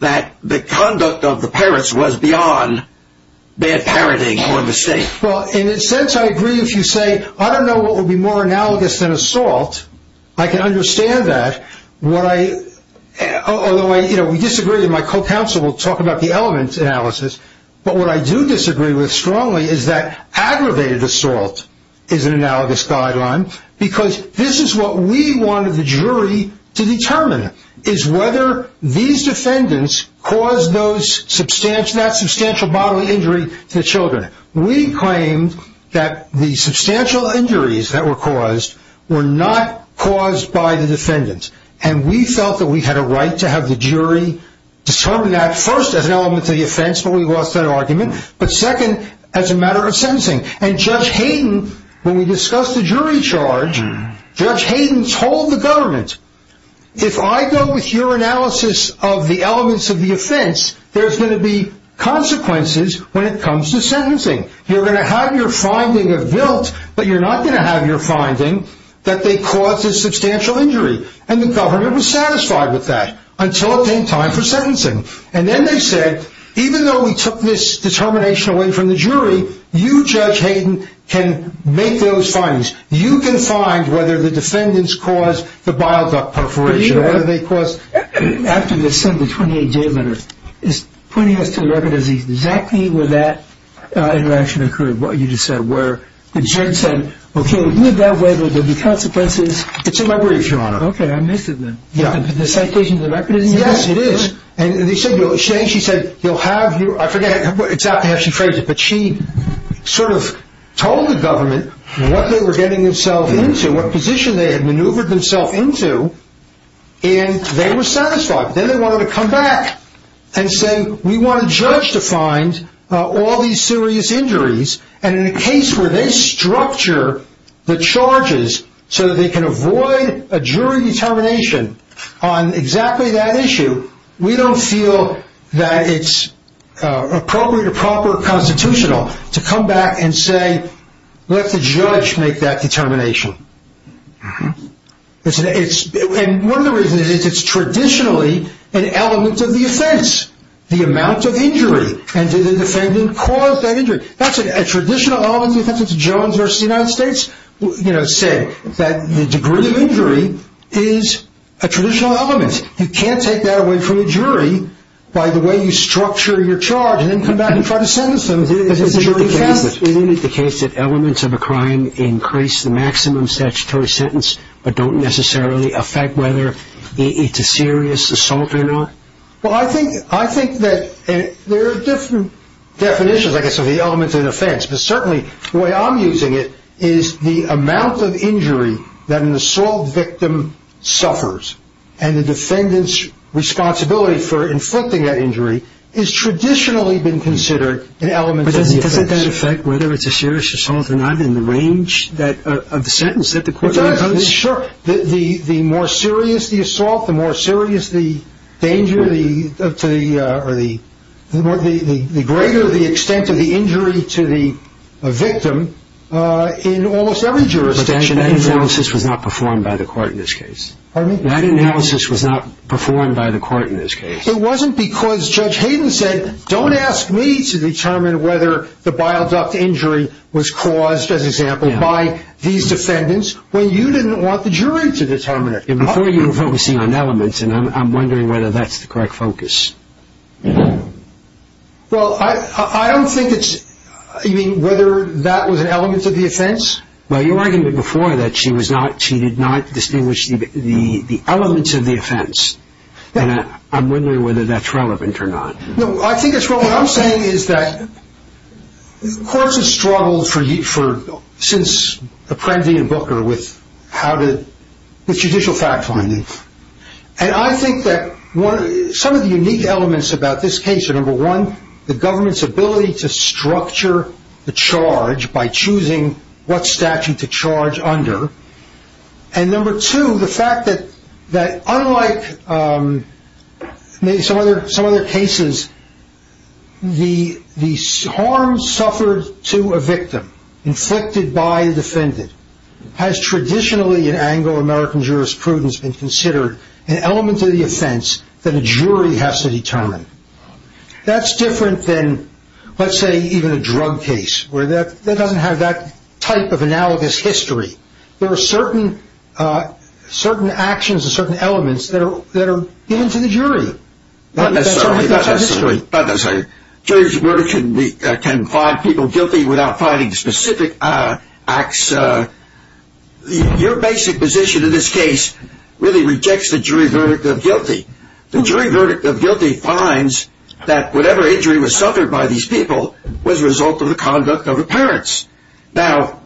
that the conduct of the parents was beyond their parenting or mistake. Well, in a sense, I agree if you say, I don't know what would be more analogous than assault. I can understand that, although we disagree, and my co-counsel will talk about the element analysis. But what I do disagree with strongly is that aggravated assault is an analogous guideline because this is what we wanted the jury to determine is whether these defendants caused that substantial bodily injury to the children. We claimed that the substantial injuries that were caused were not caused by the defendants, and we felt that we had a right to have the jury determine that, first, as an element to the offense where we lost our argument, but second, as a matter of sentencing. And Judge Hayden, when we discussed the jury charge, Judge Hayden told the government, if I go with your analysis of the elements of the offense, there's going to be consequences when it comes to sentencing. You're going to have your finding of guilt, but you're not going to have your finding that they caused a substantial injury. And the government was satisfied with that, until it came time for sentencing. And then they said, even though we took this determination away from the jury, you, Judge Hayden, can make those findings. You can find whether the defendants caused the bile duct perforation, or whether they caused, after the sentence, 28 day minutes, is pointing us to the record of exactly where that interaction occurred, what you just said, where the jury said, okay, if you have that record, there will be consequences. It's in my brief, Your Honor. Okay, I missed it then. Yeah. Is the citation in the record? Yes, it is. And they said, she said, you'll have your, I forget exactly how she phrased it, but she sort of told the government what they were getting themselves into, what position they had maneuvered themselves into, and they were satisfied. Then they wanted to come back and say, we want a judge to find all these serious injuries, and in a case where they structure the charges so that they can avoid a jury determination on exactly that issue, we don't feel that it's appropriate or proper or constitutional to come back and say, let the judge make that determination. And one of the reasons is it's traditionally an element of the offense, the amount of injury, and did the defendant cause that injury. That's a traditional element of the offense. It's Jones versus the United States, you know, saying that the degree of injury is a traditional element. You can't take that away from a jury by the way you structure your charge and then come back and try to sentence them. Isn't it the case that elements of a crime increase the maximum statutory sentence but don't necessarily affect whether it's a serious assault or not? Well, I think that there are different definitions, I guess, of the elements of an offense, but certainly the way I'm using it is the amount of injury that an assault victim suffers and the defendant's responsibility for inflicting that injury has traditionally been considered an element of the offense. But doesn't it affect whether it's a serious assault or not in the range of the sentence that the court has? Sure. The more serious the assault, the more serious the danger, the greater the extent of the injury to the victim in almost every jurisdiction. That analysis was not performed by the court in this case. Pardon me? That analysis was not performed by the court in this case. It wasn't because Judge Hayden said, don't ask me to determine whether the bile duct injury was caused, as an example, by these defendants when you didn't want the jury to determine it. Before you were focusing on elements and I'm wondering whether that's the correct focus. Well, I don't think it's, you mean, whether that was an element of the offense? Well, you were arguing before that she was not, she did not distinguish the elements of the offense. And I'm wondering whether that's relevant or not. No, I think it's relevant. What I'm saying is that courts have struggled since Apprendi and Booker with how to, the judicial fact finding. And I think that some of the unique elements about this case are, number one, the government's ability to structure the charge by choosing what statute to charge under. And number two, the fact that unlike maybe some other cases, the harm suffered to a victim inflicted by a defendant has traditionally in Anglo-American jurisprudence been considered an element of the offense that a jury has to determine. That's different than, let's say, even a drug case, where that doesn't have that type of analogous history. There are certain actions and certain elements that are given to the jury. Not necessarily. Not necessarily. Jury's verdict can find people guilty without finding specific acts. Your basic position in this case really rejects the jury verdict of guilty. The jury verdict of guilty finds that whatever injury was suffered by these people was a result of the conduct of the parents. Now,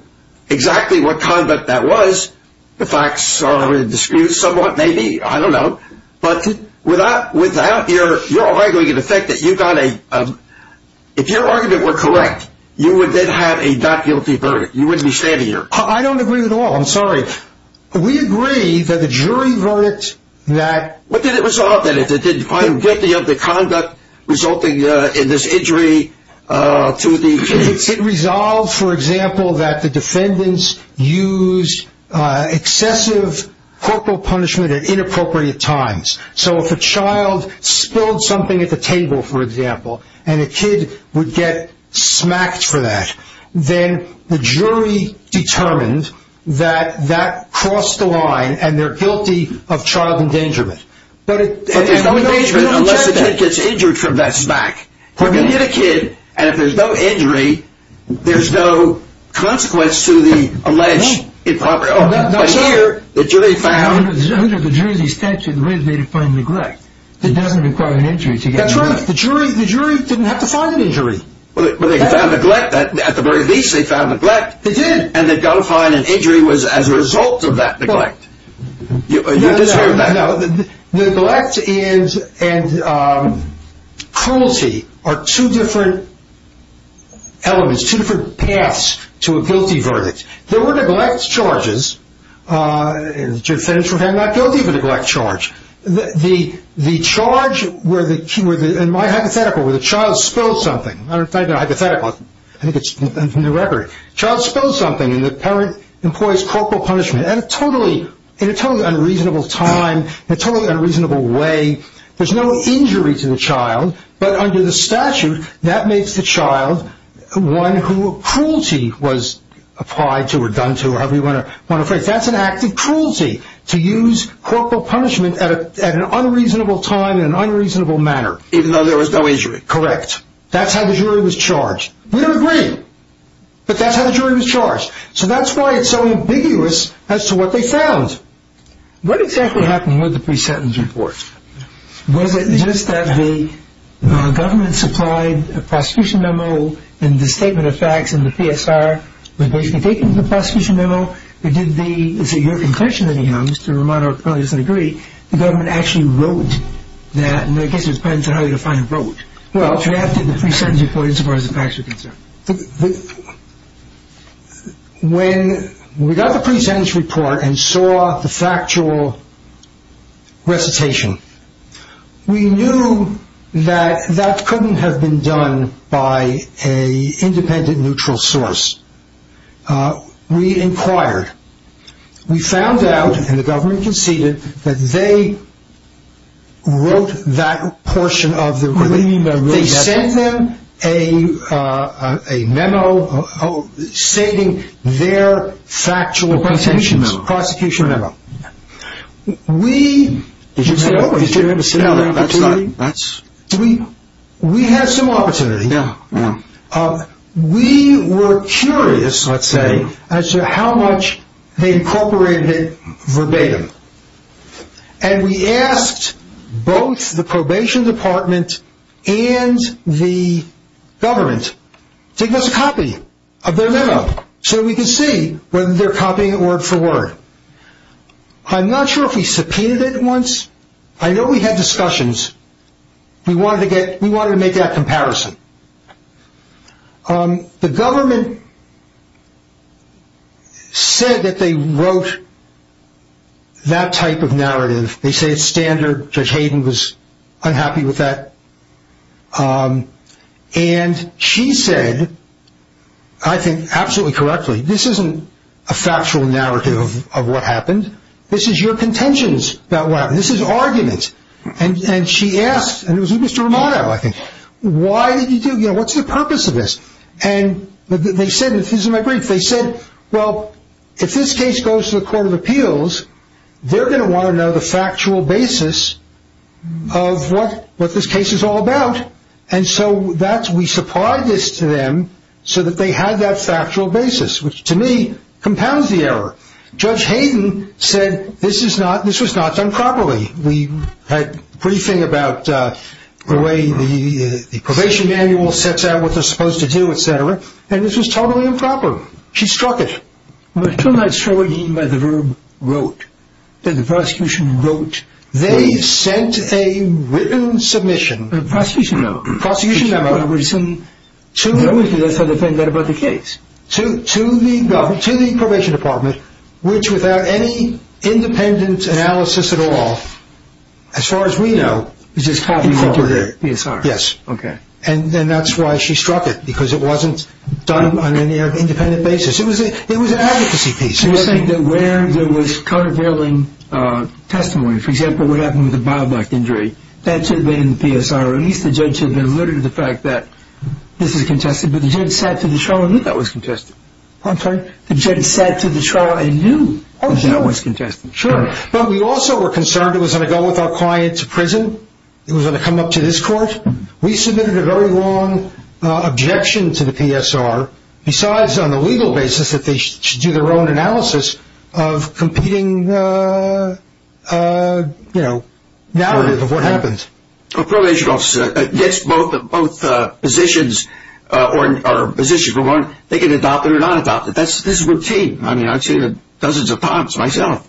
exactly what conduct that was, the facts are in dispute somewhat, maybe. I don't know. But with that, you're arguing the fact that you got a, if your argument were correct, you would then have a not guilty verdict. You wouldn't be standing here. I don't agree at all. I'm sorry. We agree that the jury verdict that. What did it result in? Did you find guilty of the conduct resulting in this injury? It resolved, for example, that the defendants used excessive corporal punishment at inappropriate times. So if a child spilled something at the table, for example, and a kid would get smacked for that, then the jury determined that that crossed the line and they're guilty of child endangerment. But there's no endangerment unless the kid gets injured from that smack. When you get a kid and there's no injury, there's no consequence to the alleged improper. Here, the jury found. Under the jury's tension, the reason they didn't find neglect. It doesn't require an injury. That's right. The jury didn't have to find an injury. But they found neglect. At the very least, they found neglect. They did. And they've got to find an injury as a result of that neglect. Neglect and cruelty are two different elements, two different paths to a guilty verdict. There were neglect charges, and the defense would have that guilty of neglect charge. The charge would be, in my hypothetical, where the child spills something. It's not even a hypothetical. I think it's in the record. The child spills something and the parent employs corporal punishment in a totally unreasonable time, in a totally unreasonable way. There's no injury to the child, but under the statute that makes the child one who cruelty was applied to or done to or have been run afraid. That's an act of cruelty to use corporal punishment at an unreasonable time in an unreasonable manner. Even though there was no injury. Correct. That's how the jury was charged. We don't agree, but that's how the jury was charged. So that's why it's so ambiguous as to what they found. What exactly happened with the pre-sentence report? Was it just that the government supplied a prosecution memo and the statement of facts and the PSR? Was they taking the prosecution memo? Is it your impression, anyhow, Mr. Romano, or does it agree the government actually wrote that and they gave it to his parents and they had to find who wrote it? Well, perhaps it was the pre-sentence report as far as the facts were concerned. When we got the pre-sentence report and saw the factual recitation, we knew that that couldn't have been done by an independent, neutral source. We inquired. We found out, and the government conceded, that they wrote that portion of the reading. They sent them a memo stating their factual prosecution memo. We had some opportunity. We were curious, let's say, as to how much they incorporated it verbatim, and we asked both the probation department and the government to give us a copy of their memo so we could see whether they're copying word for word. I'm not sure if we subpoenaed it once. I know we had discussions. We wanted to make that comparison. The government said that they wrote that type of narrative. They say it's standard. Judge Hayden was unhappy with that, and she said, I think absolutely correctly, this isn't a factual narrative of what happened. This is your contentions about what happened. This is argument. She asked, and it was Mr. Romano, I think, why did you do this? What's the purpose of this? They said, this is my brief. They said, well, if this case goes to the Court of Appeals, they're going to want to know the factual basis of what this case is all about, and so we supplied this to them so that they had that factual basis, which to me compounds the error. Judge Hayden said, this was not done properly. We had a briefing about the way the probation manual sets out what they're supposed to do, et cetera, and this was totally improper. She struck it. Two nights later, when he met the room, wrote, said the prosecution wrote. They sent a written submission. A prosecution note. A prosecution memo. To the probation department, which without any independent analysis at all, as far as we know, is just talking over their PSR. Yes. Okay. And then that's why she struck it, because it wasn't done on an independent basis. It was an advocacy case. She was saying that where there was countervailing testimony, for example, what happened with the bow back injury, that should have been in the PSR. At least the judge should have been alerted to the fact that this is contested, but the judge said to the trial, I knew that was contested. I'm sorry? The judge said to the trial, I knew that was contested. Sure. But we also were concerned it was going to go with our client to prison. It was going to come up to this court. We submitted a very long objection to the PSR, besides on the legal basis that they should do their own analysis of competing, you know, narrative of what happens. A probation officer gets both positions, or positions for one, they can adopt it or not adopt it. This is routine. I mean, I've seen it dozens of times myself.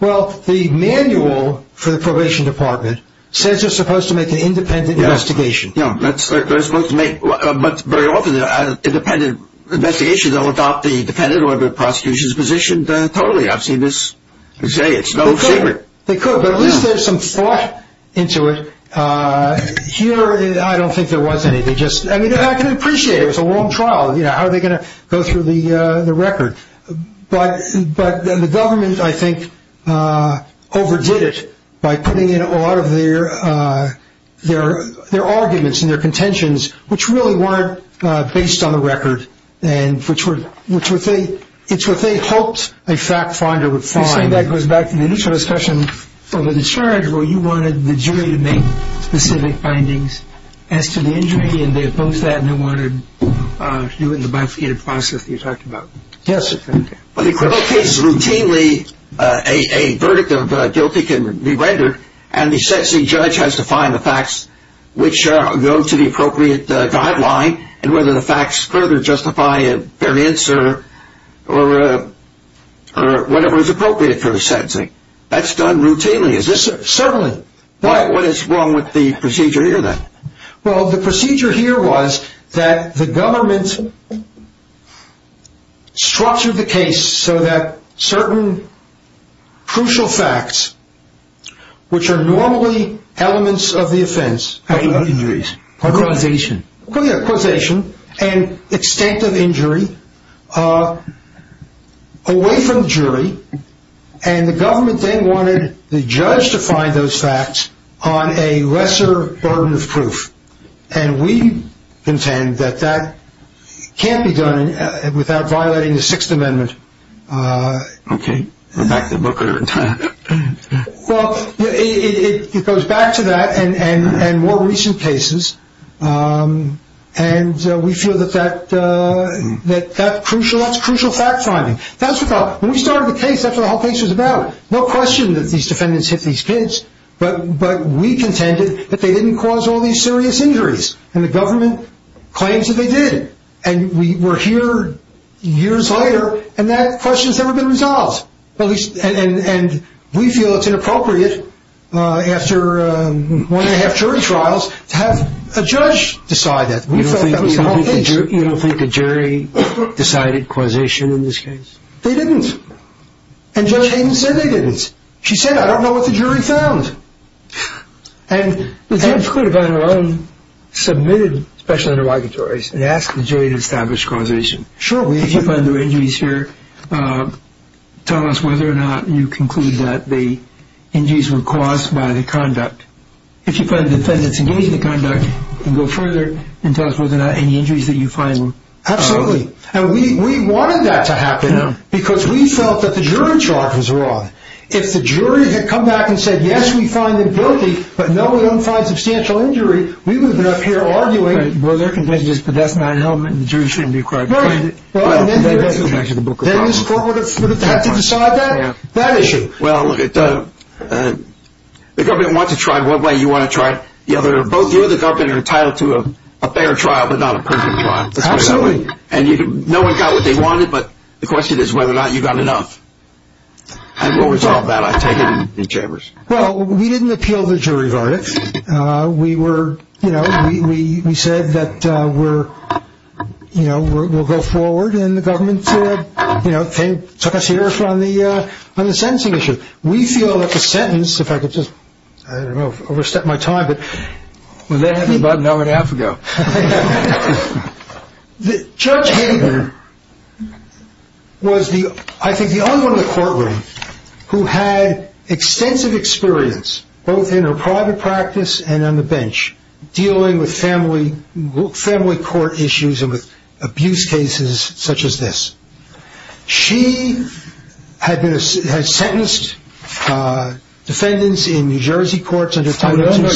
Well, the manual for the probation department says you're supposed to make an independent investigation. Yes. No, that's what they're supposed to make. But very often an independent investigation will adopt the dependent or the prosecution's position totally. I've seen this. It's no secret. They could. But at least there's some thought into it. Here, I don't think there was any. I mean, I can appreciate it. It's a long trial. How are they going to go through the record? But the government, I think, overdid it by putting in a lot of their arguments and their contentions, which really weren't based on the record, and it's what they hoped a fact finder would find. I think that goes back to the initial discussion over the charge where you wanted the jury to make specific findings as to the injury, and they opposed that and they wanted to do it in the bifurcated process you talked about. Yes. Well, the equivalent case is routinely a verdict of guilty can be rendered, and essentially the judge has to find the facts which go to the appropriate guideline, and whether the facts further justify their answer or whatever is appropriate for a sentencing. That's done routinely. Certainly. What is wrong with the procedure here, then? Well, the procedure here was that the government swatched the case so that certain crucial facts, which are normally elements of the offense. Quotation. Quotation. Yeah, quotation, and extent of injury, away from the jury, and the government then wanted the judge to find those facts on a lesser burden of proof, and we contend that that can't be done without violating the Sixth Amendment. Okay. Well, it goes back to that and more recent cases, and we feel that that's crucial fact-finding. When we started the case, that's what the whole case was about. No question that these defendants hit these kids, but we contended that they didn't cause all these serious injuries, and the government claims that they did, and we're here years later, and that question has never been resolved, and we feel it's inappropriate after one-and-a-half jury trials to have a judge decide that. You don't think the jury decided quotation in this case? They didn't, and Judge Hayden said they didn't. She said, I don't know what the jury found, and Judge Hayden put it on her own, submitted special interrogatories, and asked the jury to establish causation. Sure. Did you find there were injuries here? Tell us whether or not you conclude that the injuries were caused by the conduct. If you find defendants engaged in the conduct, you can go further and tell us whether or not any injuries that you find were caused. Absolutely, and we wanted that to happen because we felt that the jury's arguments were wrong. If the jury had come back and said, yes, we find them guilty, but none of them find substantial injuries, we would have been up here arguing. Well, they're convinced that that's not an element, and the jury shouldn't be a part of it. No, and then they'd have to decide that issue. Well, the government wants to try it one way, you want to try it the other. Both you and the government are entitled to a fair trial, but not a perfect trial. Absolutely. And no one got what they wanted, but the question is whether or not you got enough. You always talk about it in the chambers. Well, we didn't appeal the jury verdict. We said that we'll go forward, and the government took us here on the sentencing issue. We feel that the sentence, if I could just, I don't know, overstep my time, but they had me about an hour and a half ago. Judge Hayden was, I think, the only one in the courtroom who had extensive experience, both in her private practice and on the bench, dealing with family court issues and with abuse cases such as this. She has sentenced defendants in New Jersey courts. We all know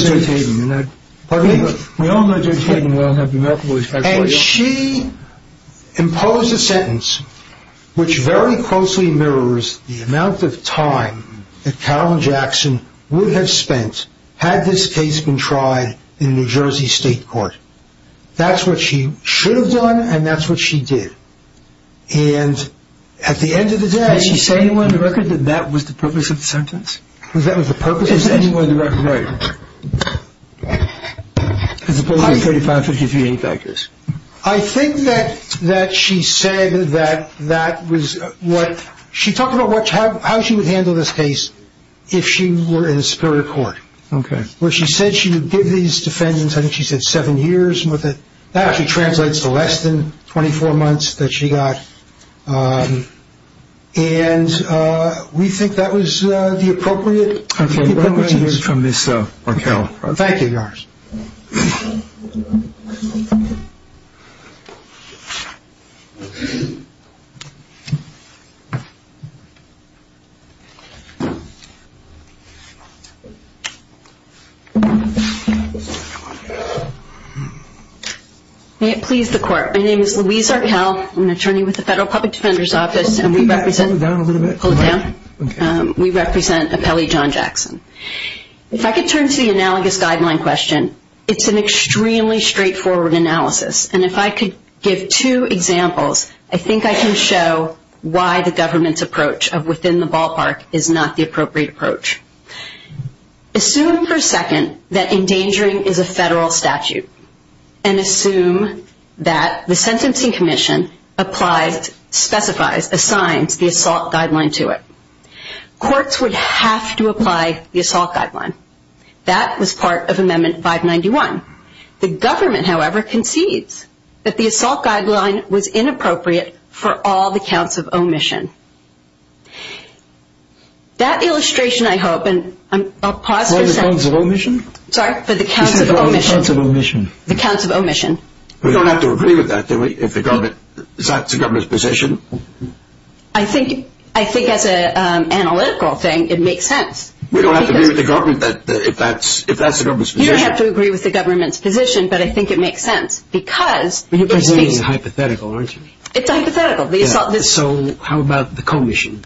Judge Hayden. And she imposed a sentence which very closely mirrors the amount of time that Carole Jackson would have spent had this case been tried in a New Jersey state court. That's what she should have done, and that's what she did. And at the end of the day, Did she say in the record that that was the purpose of the sentence? That that was the purpose of the sentence? Right. Does the board of attorney find that she did anything like this? I think that she said that that was what, she talked about how she would handle this case if she were in a spirit of court. Okay. Well, she said she would give these defendants, I think she said seven years. That actually translates to less than 24 months that she got. And we think that was the appropriate. Okay. Thank you. May it please the court. My name is Louise Arkell. I'm an attorney with the Federal Public Defender's Office and we represent, Pull it down a little bit. Pull it down? Okay. We represent Appellee John Jackson. If I could turn to the analogous guideline question, it's an extremely straightforward analysis. And if I could give two examples, I think I can show why the government's approach of within the ballpark is not the appropriate approach. Assume for a second that endangering is a federal statute and assume that the Sentencing Commission applies, specifies, assigns the assault guideline to it. Courts would have to apply the assault guideline. That was part of Amendment 591. The government, however, concedes that the assault guideline was inappropriate for all the counts of omission. That illustration, I hope, and I'll pause. All the counts of omission? Sorry? All the counts of omission. All the counts of omission. The counts of omission. We don't have to agree with that if that's the government's position? I think that's an analytical thing. It makes sense. We don't have to agree with the government if that's the government's position? You don't have to agree with the government's position, but I think it makes sense because... But you're presenting a hypothetical, aren't you? It's a hypothetical. So how about the commission?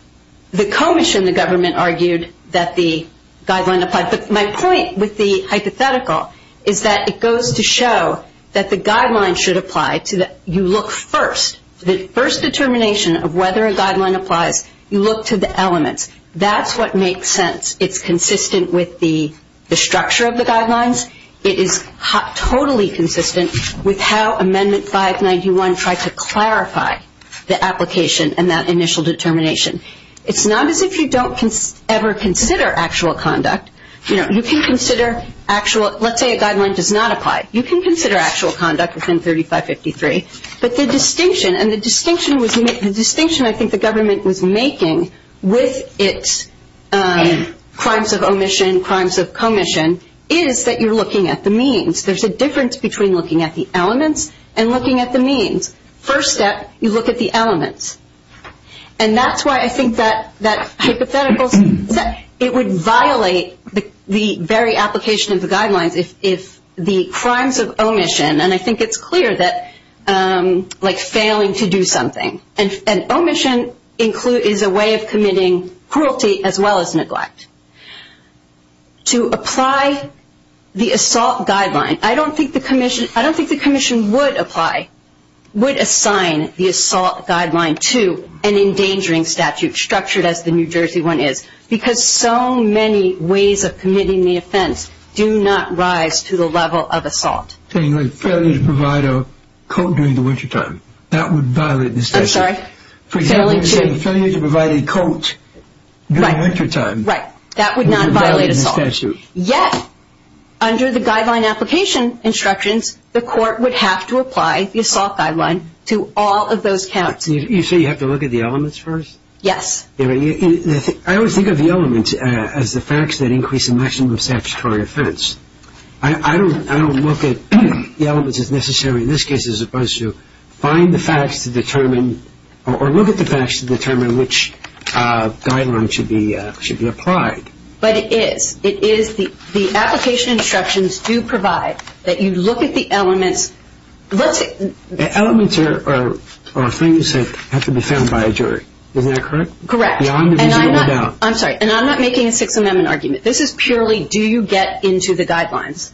The commission, the government, argued that the guideline applies. My point with the hypothetical is that it goes to show that the guideline should apply. You look first. The first determination of whether a guideline applies, you look to the element. That's what makes sense. It's consistent with the structure of the guidelines. It is totally consistent with how Amendment 591 tried to clarify the application and that initial determination. It's not as if you don't ever consider actual conduct. You can consider actual. Let's say a guideline does not apply. You can consider actual conduct within 3553, but the distinction, and the distinction I think the government was making with its crimes of omission, crimes of commission, is that you're looking at the means. There's a difference between looking at the elements and looking at the means. First step, you look at the elements. And that's why I think that hypothetical, that it would violate the very application of the guidelines is the crimes of omission, and I think it's clear that like failing to do something. And omission is a way of committing cruelty as well as neglect. To apply the assault guideline, I don't think the commission would apply, would assign the assault guideline to an endangering statute, structured as the New Jersey one is, because so many ways of committing the offense do not rise to the level of assault. Failure to provide a coat during the wintertime. That would violate the statute. I'm sorry? Failure to provide a coat during wintertime. Right. That would not violate the statute. Yes. Under the guideline application instructions, the court would have to apply the assault guideline to all of those counts. You say you have to look at the elements first? Yes. I always think of the elements as the facts that increase the maximum statutory offense. I don't look at the elements, if necessary, in this case, as opposed to find the facts to determine or look at the facts to determine which guideline should be applied. But it is. The application instructions do provide that you look at the elements. Elements are things that have to be found by a jury. Isn't that correct? Correct. I'm sorry. And I'm not making a Sixth Amendment argument. This is purely do you get into the guidelines.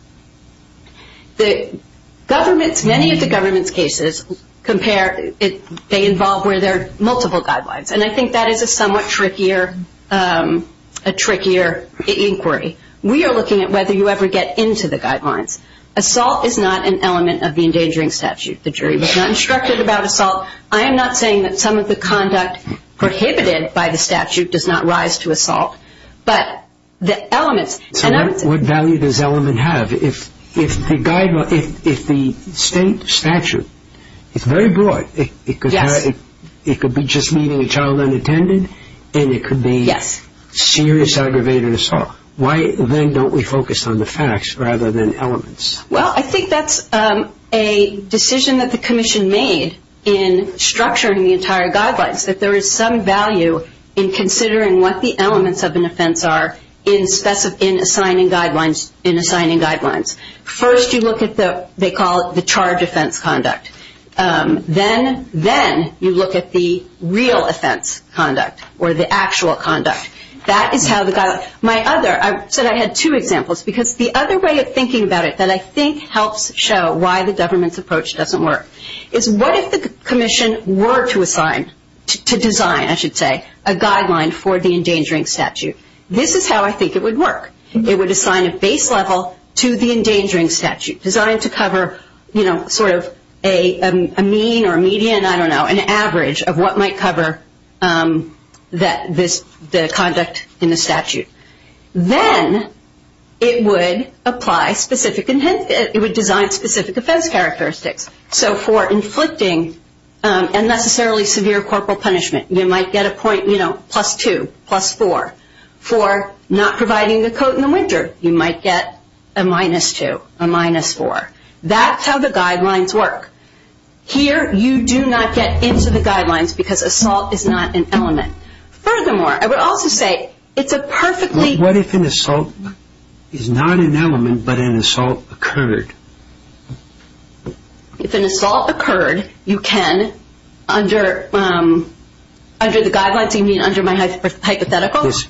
Many of the government's cases involve where there are multiple guidelines, and I think that is a somewhat trickier inquiry. We are looking at whether you ever get into the guidelines. Assault is not an element of the endangering statute. The jury was not instructed about assault. I am not saying that some of the conduct prohibited by the statute does not rise to assault, but the elements. So what value does element have? If the state statute is very broad, it could be just meeting a child unattended, and it could be serious aggravated assault, why then don't we focus on the facts rather than elements? Well, I think that's a decision that the commission made in structuring the entire guidelines, that there is some value in considering what the elements of an offense are in assigning guidelines. First you look at what they call the charge offense conduct. Then you look at the real offense conduct or the actual conduct. That is how the guidelines. My other, I said I had two examples, because the other way of thinking about it that I think helps show why the government's approach doesn't work, is what if the commission were to assign, to design, I should say, a guideline for the endangering statute? This is how I think it would work. It would assign a base level to the endangering statute, designing to cover sort of a mean or a median, I don't know, an average of what might cover the conduct in the statute. Then it would design specific offense characteristics. So for inflicting unnecessarily severe corporal punishment, you might get a point, you know, plus two, plus four. For not providing the coat in the winter, you might get a minus two, a minus four. That's how the guidelines work. Here you do not get into the guidelines because assault is not an element. Furthermore, I would also say it's a perfectly- What if an assault is not an element but an assault occurred? If an assault occurred, you can, under the guidelines, you mean under my hypotheticals,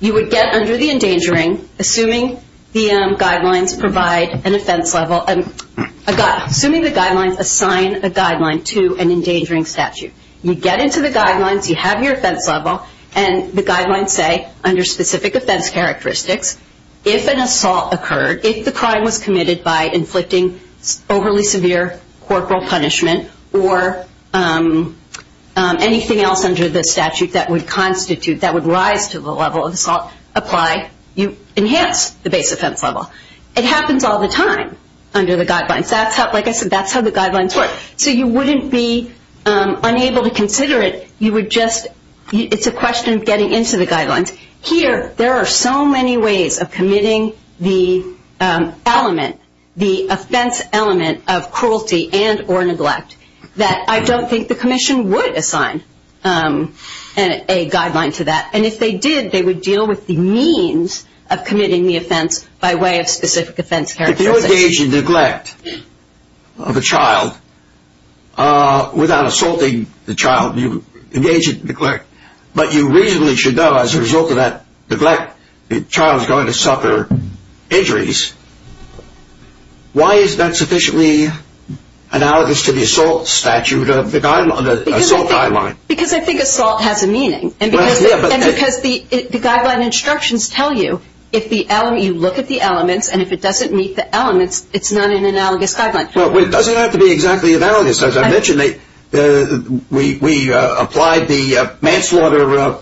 you would get under the endangering, assuming the guidelines provide an offense level, assuming the guidelines assign a guideline to an endangering statute. You get into the guidelines, you have your offense level, and the guidelines say, under specific offense characteristics, if an assault occurred, if the crime was committed by inflicting overly severe corporal punishment or anything else under the statute that would constitute, that would rise to the level of assault applied, you enhance the base offense level. It happens all the time under the guidelines. That's how, like I said, that's how the guidelines work. So you wouldn't be unable to consider it. Here, there are so many ways of committing the element, the offense element of cruelty and or neglect, that I don't think the commission would assign a guideline for that. And if they did, they would deal with the means of committing the offense by way of specific offense characteristics. If you engage in neglect of a child without assaulting the child, you engage in neglect, but you reasonably should know, as a result of that neglect, the child is going to suffer injuries. Why is that sufficiently analogous to the assault statute, the assault guideline? Because I think assault has a meaning. And because the guideline instructions tell you if you look at the elements and if it doesn't meet the elements, it's not an analogous guideline. Well, it doesn't have to be exactly analogous. As I mentioned, we applied the manslaughter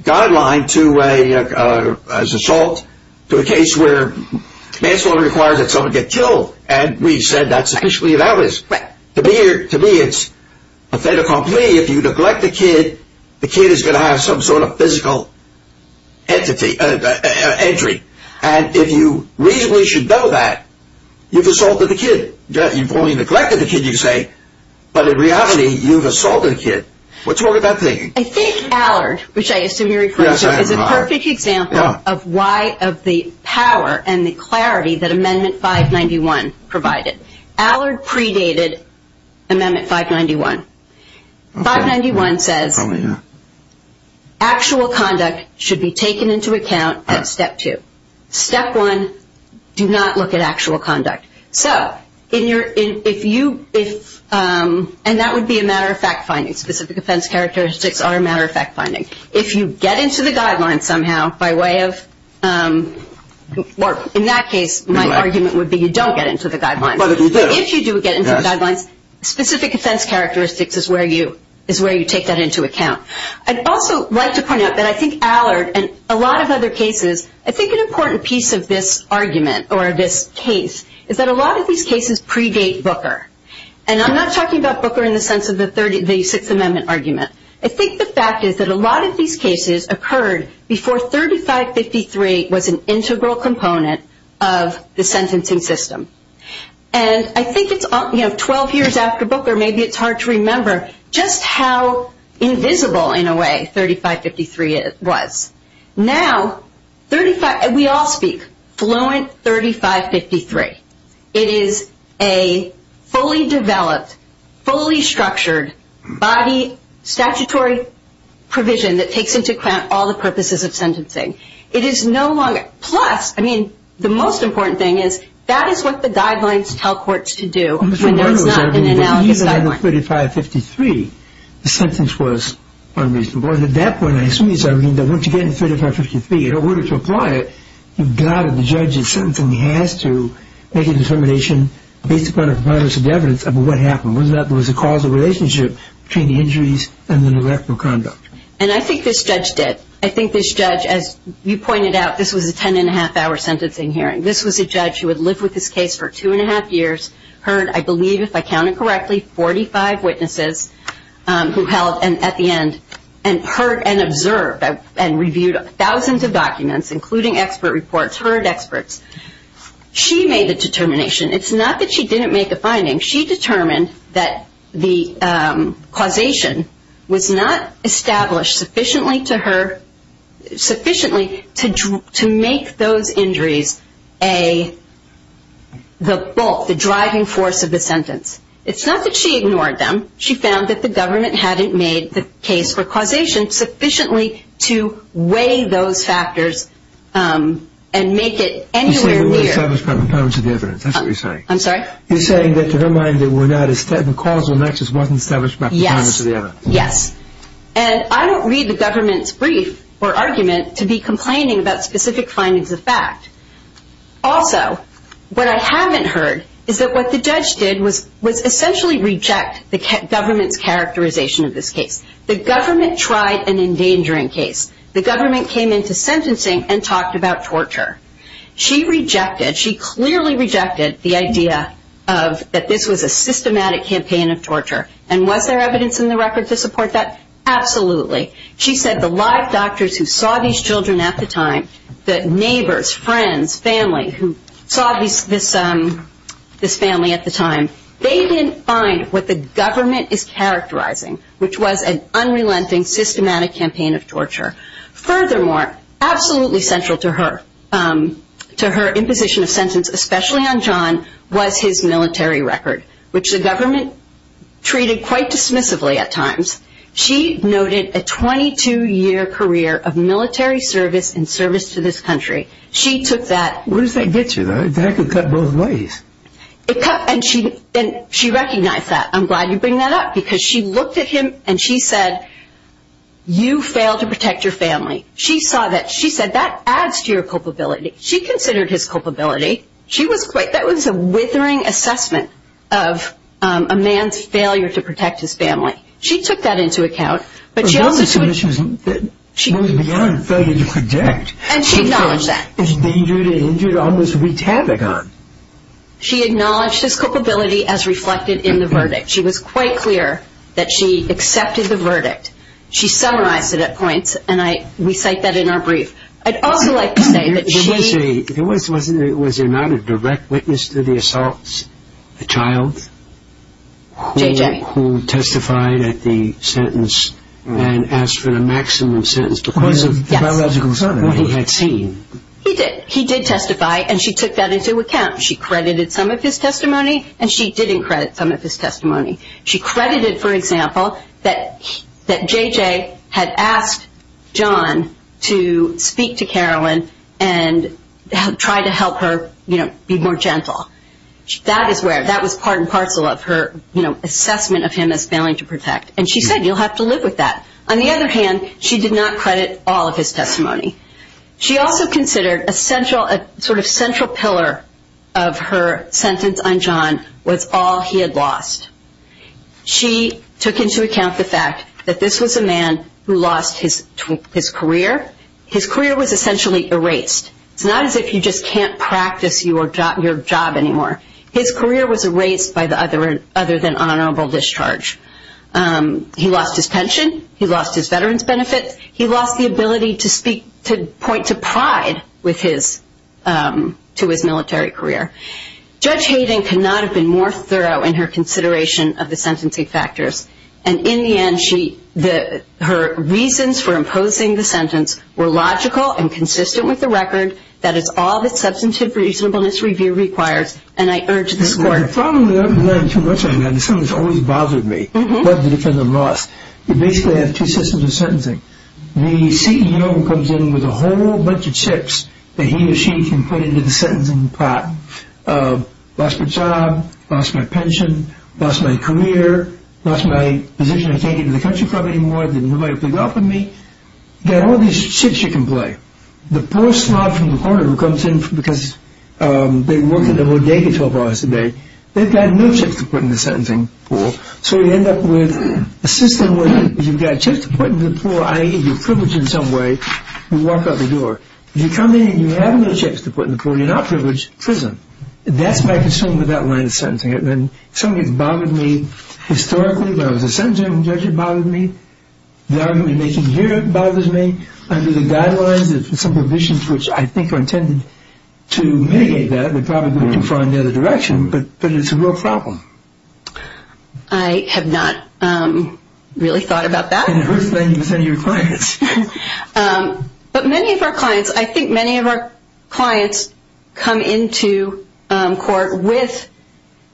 guideline to an assault, to a case where manslaughter requires that someone get killed. And we said that's sufficiently analogous. To me, it's a better compliment. If you neglect the kid, the kid is going to have some sort of physical injury. And if you reasonably should know that, you've assaulted the kid. You've only neglected the kid, you say, but in reality, you've assaulted the kid. What's wrong with that thinking? I think Allard, which I assume you're referring to, is a perfect example of why, of the power and the clarity that Amendment 591 provided. Allard predated Amendment 591. 591 says actual conduct should be taken into account in Step 2. Step 1, do not look at actual conduct. And that would be a matter-of-fact finding. Specific offense characteristics are a matter-of-fact finding. If you get into the guidelines somehow by way of, or in that case, my argument would be you don't get into the guidelines. But if you do get into the guidelines, specific offense characteristics is where you take that into account. I'd also like to point out that I think Allard, and a lot of other cases, I think an important piece of this argument, or this case, is that a lot of these cases predate Booker. And I'm not talking about Booker in the sense of the Sixth Amendment argument. I think the fact is that a lot of these cases occurred before 3553 was an integral component of the sentencing system. And I think 12 years after Booker, maybe it's hard to remember, just how invisible, in a way, 3553 was. Now, we all speak, fluent 3553. It is a fully developed, fully structured body statutory provision that takes into account all the purposes of sentencing. It is no longer, plus, I mean, the most important thing is that is what the guidelines tell courts to do. Even under 3553, the sentence was unreasonable. And at that point, I assume you said, I mean, that once you get into 3553, in order to apply it, you've got to, the judge in certain cases has to make a determination based upon a comprehensive evidence of what happened. Was that there was a causal relationship between the injuries and the neglectful conduct? And I think this judge did. I think this judge, as you pointed out, this was a ten-and-a-half-hour sentencing hearing. This was a judge who had lived with this case for two-and-a-half years. Heard, I believe, if I counted correctly, 45 witnesses who held, and at the end, and heard and observed and reviewed thousands of documents, including expert reports, heard experts. She made a determination. It's not that she didn't make a finding. She determined that the causation was not established sufficiently to her, It's not that she ignored them. She found that the government hadn't made the case for causation sufficiently to weigh those factors and make it entirely clear. You're saying it wasn't established by proponents of the evidence. That's what you're saying. I'm sorry? You're saying that to their mind, the causal nexus wasn't established by proponents of the evidence. Yes. And I don't read the government's brief or argument to be complaining about specific findings of fact. Also, what I haven't heard is that what the judge did was essentially reject the government's characterization of this case. The government tried an endangering case. The government came into sentencing and talked about torture. She rejected, she clearly rejected the idea that this was a systematic campaign of torture. And was there evidence in the record to support that? Absolutely. She said the live doctors who saw these children at the time, the neighbors, friends, family who saw this family at the time, they didn't find what the government is characterizing, which was an unrelenting, systematic campaign of torture. Furthermore, absolutely central to her imposition of sentence, especially on John, was his military record, which the government treated quite dismissively at times. She noted a 22-year career of military service and service to this country. She took that. Where does that get you? That could cut both ways. And she recognized that. I'm glad you bring that up because she looked at him and she said, you failed to protect your family. She saw that. She said that adds to your culpability. She considered his culpability. She was quite, that was a withering assessment of a man's failure to protect his family. She took that into account. But she also said she was beyond failing to protect. And she acknowledged that. He's been injured, almost retabbed. She acknowledged his culpability as reflected in the verdict. She was quite clear that she accepted the verdict. She summarized it at points, and we cite that in our brief. I'd also like to say that she. Was there not a direct witness to the assault? A child? JJ. Who testified at the sentence and asked for the maximum sentence. He did testify, and she took that into account. She credited some of his testimony, and she didn't credit some of his testimony. She credited, for example, that JJ had asked John to speak to Carolyn and try to help her be more gentle. That is where, that was part and parcel of her assessment of him as failing to protect. And she said, you'll have to live with that. On the other hand, she did not credit all of his testimony. She also considered a sort of central pillar of her sentence on John was all he had lost. She took into account the fact that this was a man who lost his career. His career was essentially erased. It's not as if you just can't practice your job anymore. His career was erased by the other than honorable discharge. He lost his pension. He lost his veteran's benefit. He lost the ability to speak, to point to pride with his, to his military career. Judge Hayden could not have been more thorough in her consideration of the sentencing factors. And in the end, her reasons for imposing the sentence were logical and consistent with the record. That is all that substantive reasonableness review requires, and I urge this court. My problem with it is that I'm too much of a man. The sentence always bothers me. It doesn't because I'm lost. It basically has two systems of sentencing. The CEO comes in with a whole bunch of chips that he or she can put into the sentencing pot. Lost my job. Lost my pension. Lost my career. Lost my position I can't get into the country club anymore. Didn't nobody play golf with me. Got all these chips you can play. The poor slob from the corner who comes in because they work at the mortgage office all day, they've got no chips to put in the sentencing pool. So you end up with a system where you've got chips to put in the pool, i.e. you're privileged in some way. You walk out the door. You come in and you have no chips to put in the pool. You're not privileged. Prison. That's my concern with that line of sentencing. It bothered me historically when I was a sentencing judge. It bothered me. It bothers me. Under the guidelines, there's some provisions which I think are intended to mitigate that. They're probably going to go in the other direction, but it's a real problem. I have not really thought about that. And it hurts me to defend your clients. But many of our clients, I think many of our clients come into court with,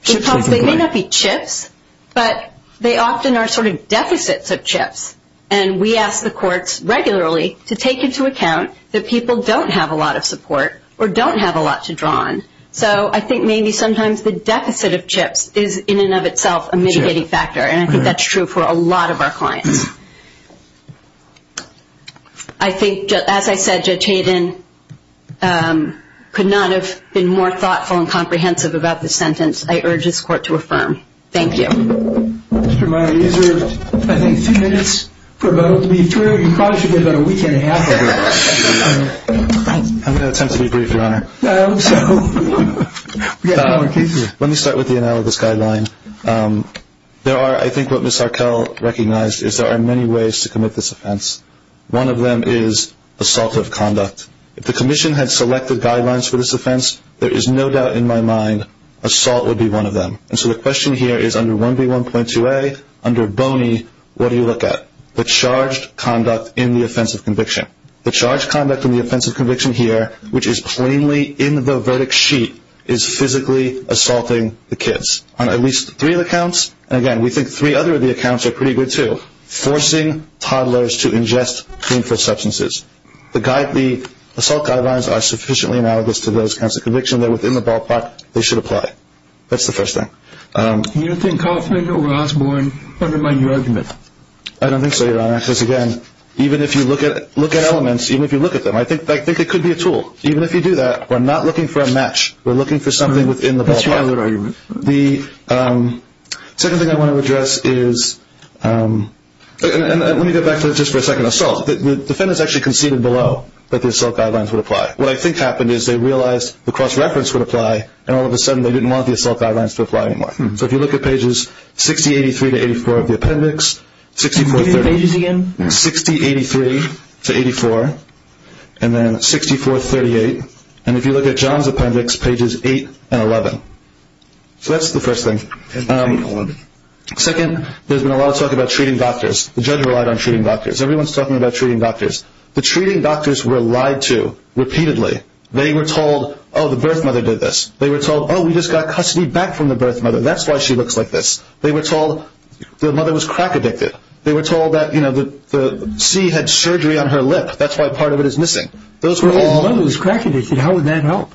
they may not be chips, but they often are sort of deficits of chips. And we ask the courts regularly to take into account that people don't have a lot of support or don't have a lot to draw on. So I think maybe sometimes the deficit of chips is in and of itself a mitigating factor, and I think that's true for a lot of our clients. I think, as I said, Judge Hayden could not have been more thoughtful and comprehensive about this sentence. I urge this court to affirm. Thank you. Mr. Meyer, you have, I think, two minutes for about to be adjourned. You probably should get about a week and a half after that. I'm going to attempt to be brief, Your Honor. Let me start with you now with this guideline. There are, I think what Ms. Arkell recognized, is there are many ways to commit this offense. One of them is assault of conduct. If the commission had selected guidelines for this offense, there is no doubt in my mind, assault would be one of them. And so the question here is, under 1B1.2A, under bony, what do you look at? The charged conduct in the offense of conviction. The charged conduct in the offense of conviction here, which is plainly in the verdict sheet, is physically assaulting the kids on at least three of the counts. And, again, we think three other of the accounts are pretty good, too. Forcing toddlers to ingest harmful substances. The assault guidelines are sufficiently analogous to those counts of conviction that within the ballpark they should apply. That's the first thing. Do you think Kauffman or Osborne would remind the argument? I don't think so, Your Honor. Because, again, even if you look at elements, even if you look at them, I think it could be a tool. Even if you do that, we're not looking for a match. We're looking for something within the ballpark. The second thing I want to address is, and let me go back just for a second, assault. The defendants actually conceded below that the assault guidelines would apply. What I think happened is they realized the cross-reference would apply, and all of a sudden they didn't want the assault guidelines to apply anymore. So if you look at pages 6083 to 84 of the appendix, 6083 to 84, and then 6438, and if you look at John's appendix, pages 8 and 11. So that's the first thing. Second, there's been a lot of talk about treating doctors. The judge relied on treating doctors. Everyone's talking about treating doctors. The treating doctors were lied to repeatedly. They were told, oh, the birth mother did this. They were told, oh, we just got custody back from the birth mother. That's why she looks like this. They were told the mother was crack addicted. They were told that the C had surgery on her lip. That's why part of it is missing. The mother was crack addicted. How would that help?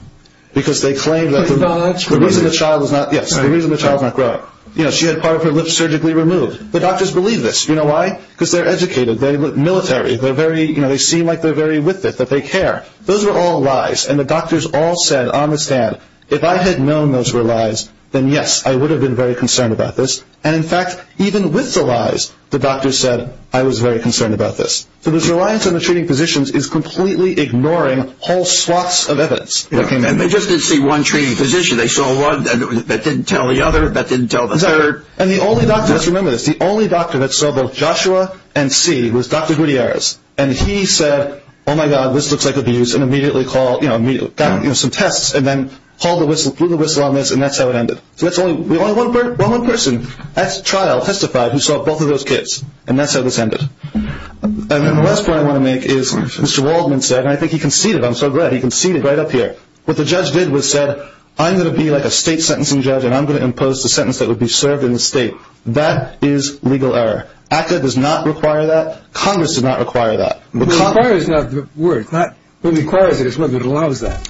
Because they claimed that the reason the child was not growing. She had part of her lip surgically removed. The doctors believed this. You know why? Because they're educated. They look military. They seem like they're very with it, that they care. Those were all lies, and the doctors all said on the stand, if I had known those were lies, then, yes, I would have been very concerned about this. And, in fact, even with the lies, the doctors said, I was very concerned about this. So this reliance on the treating physicians is completely ignoring whole swaths of evidence. And they just didn't see one treating physician. They saw one that didn't tell the other, that didn't tell the third. And the only doctor, just remember this, the only doctor that saw both Joshua and C was Dr. Gutierrez, and he said, oh, my God, this looks like abuse, and immediately got some tests, and then blew the whistle on this, and that's how it ended. One person at trial testified who saw both of those kids, and that's how this ended. And then the last point I want to make is Mr. Waldman said, and I think he conceded, I'm so glad, he conceded right up here. What the judge did was said, I'm going to be like a state sentencing judge, and I'm going to impose the sentence that would be served in the state. That is legal error. ACCA does not require that. Congress does not require that. It requires that word. It requires it. It allows that.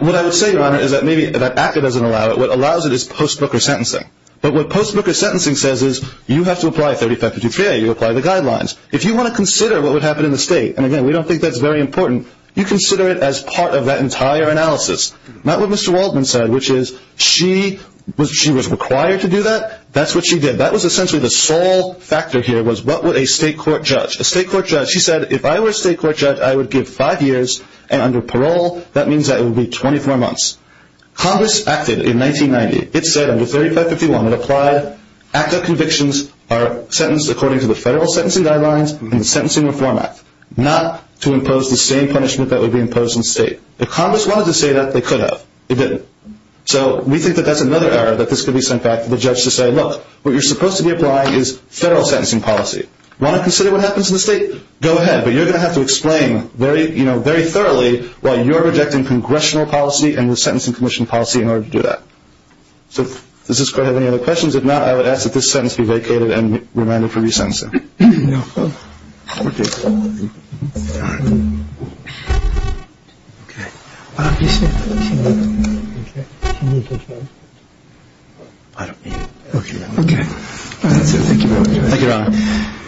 What I would say, Your Honor, is that maybe if ACCA doesn't allow it, what allows it is post-booker sentencing. But what post-booker sentencing says is you have to apply a 35 to 2 trail. You have to apply the guidelines. If you want to consider what would happen in the state, and, again, we don't think that's very important, you consider it as part of that entire analysis. Not what Mr. Waldman said, which is she was required to do that. That's what she did. That was essentially the sole factor here was what would a state court judge. A state court judge, he said, if I were a state court judge, I would give five years, and under parole that means that it would be 24 months. Congress acted in 1990. It said under 3551 it applied. ACCA convictions are sentenced according to the federal sentencing guidelines and the Sentencing Reform Act, not to impose the same punishment that would be imposed in the state. If Congress wanted to say that, they could have. They didn't. So we think that that's another error that this could be sent back to the judge to say, look, what you're supposed to be applying is federal sentencing policy. Want to consider what happens in the state? Go ahead, but you're going to have to explain very thoroughly why you're rejecting congressional policy and the sentencing commission policy in order to do that. Does this court have any other questions? If not, I would ask that this sentence be vacated and remanded for re-sentencing. Thank you, Your Honor.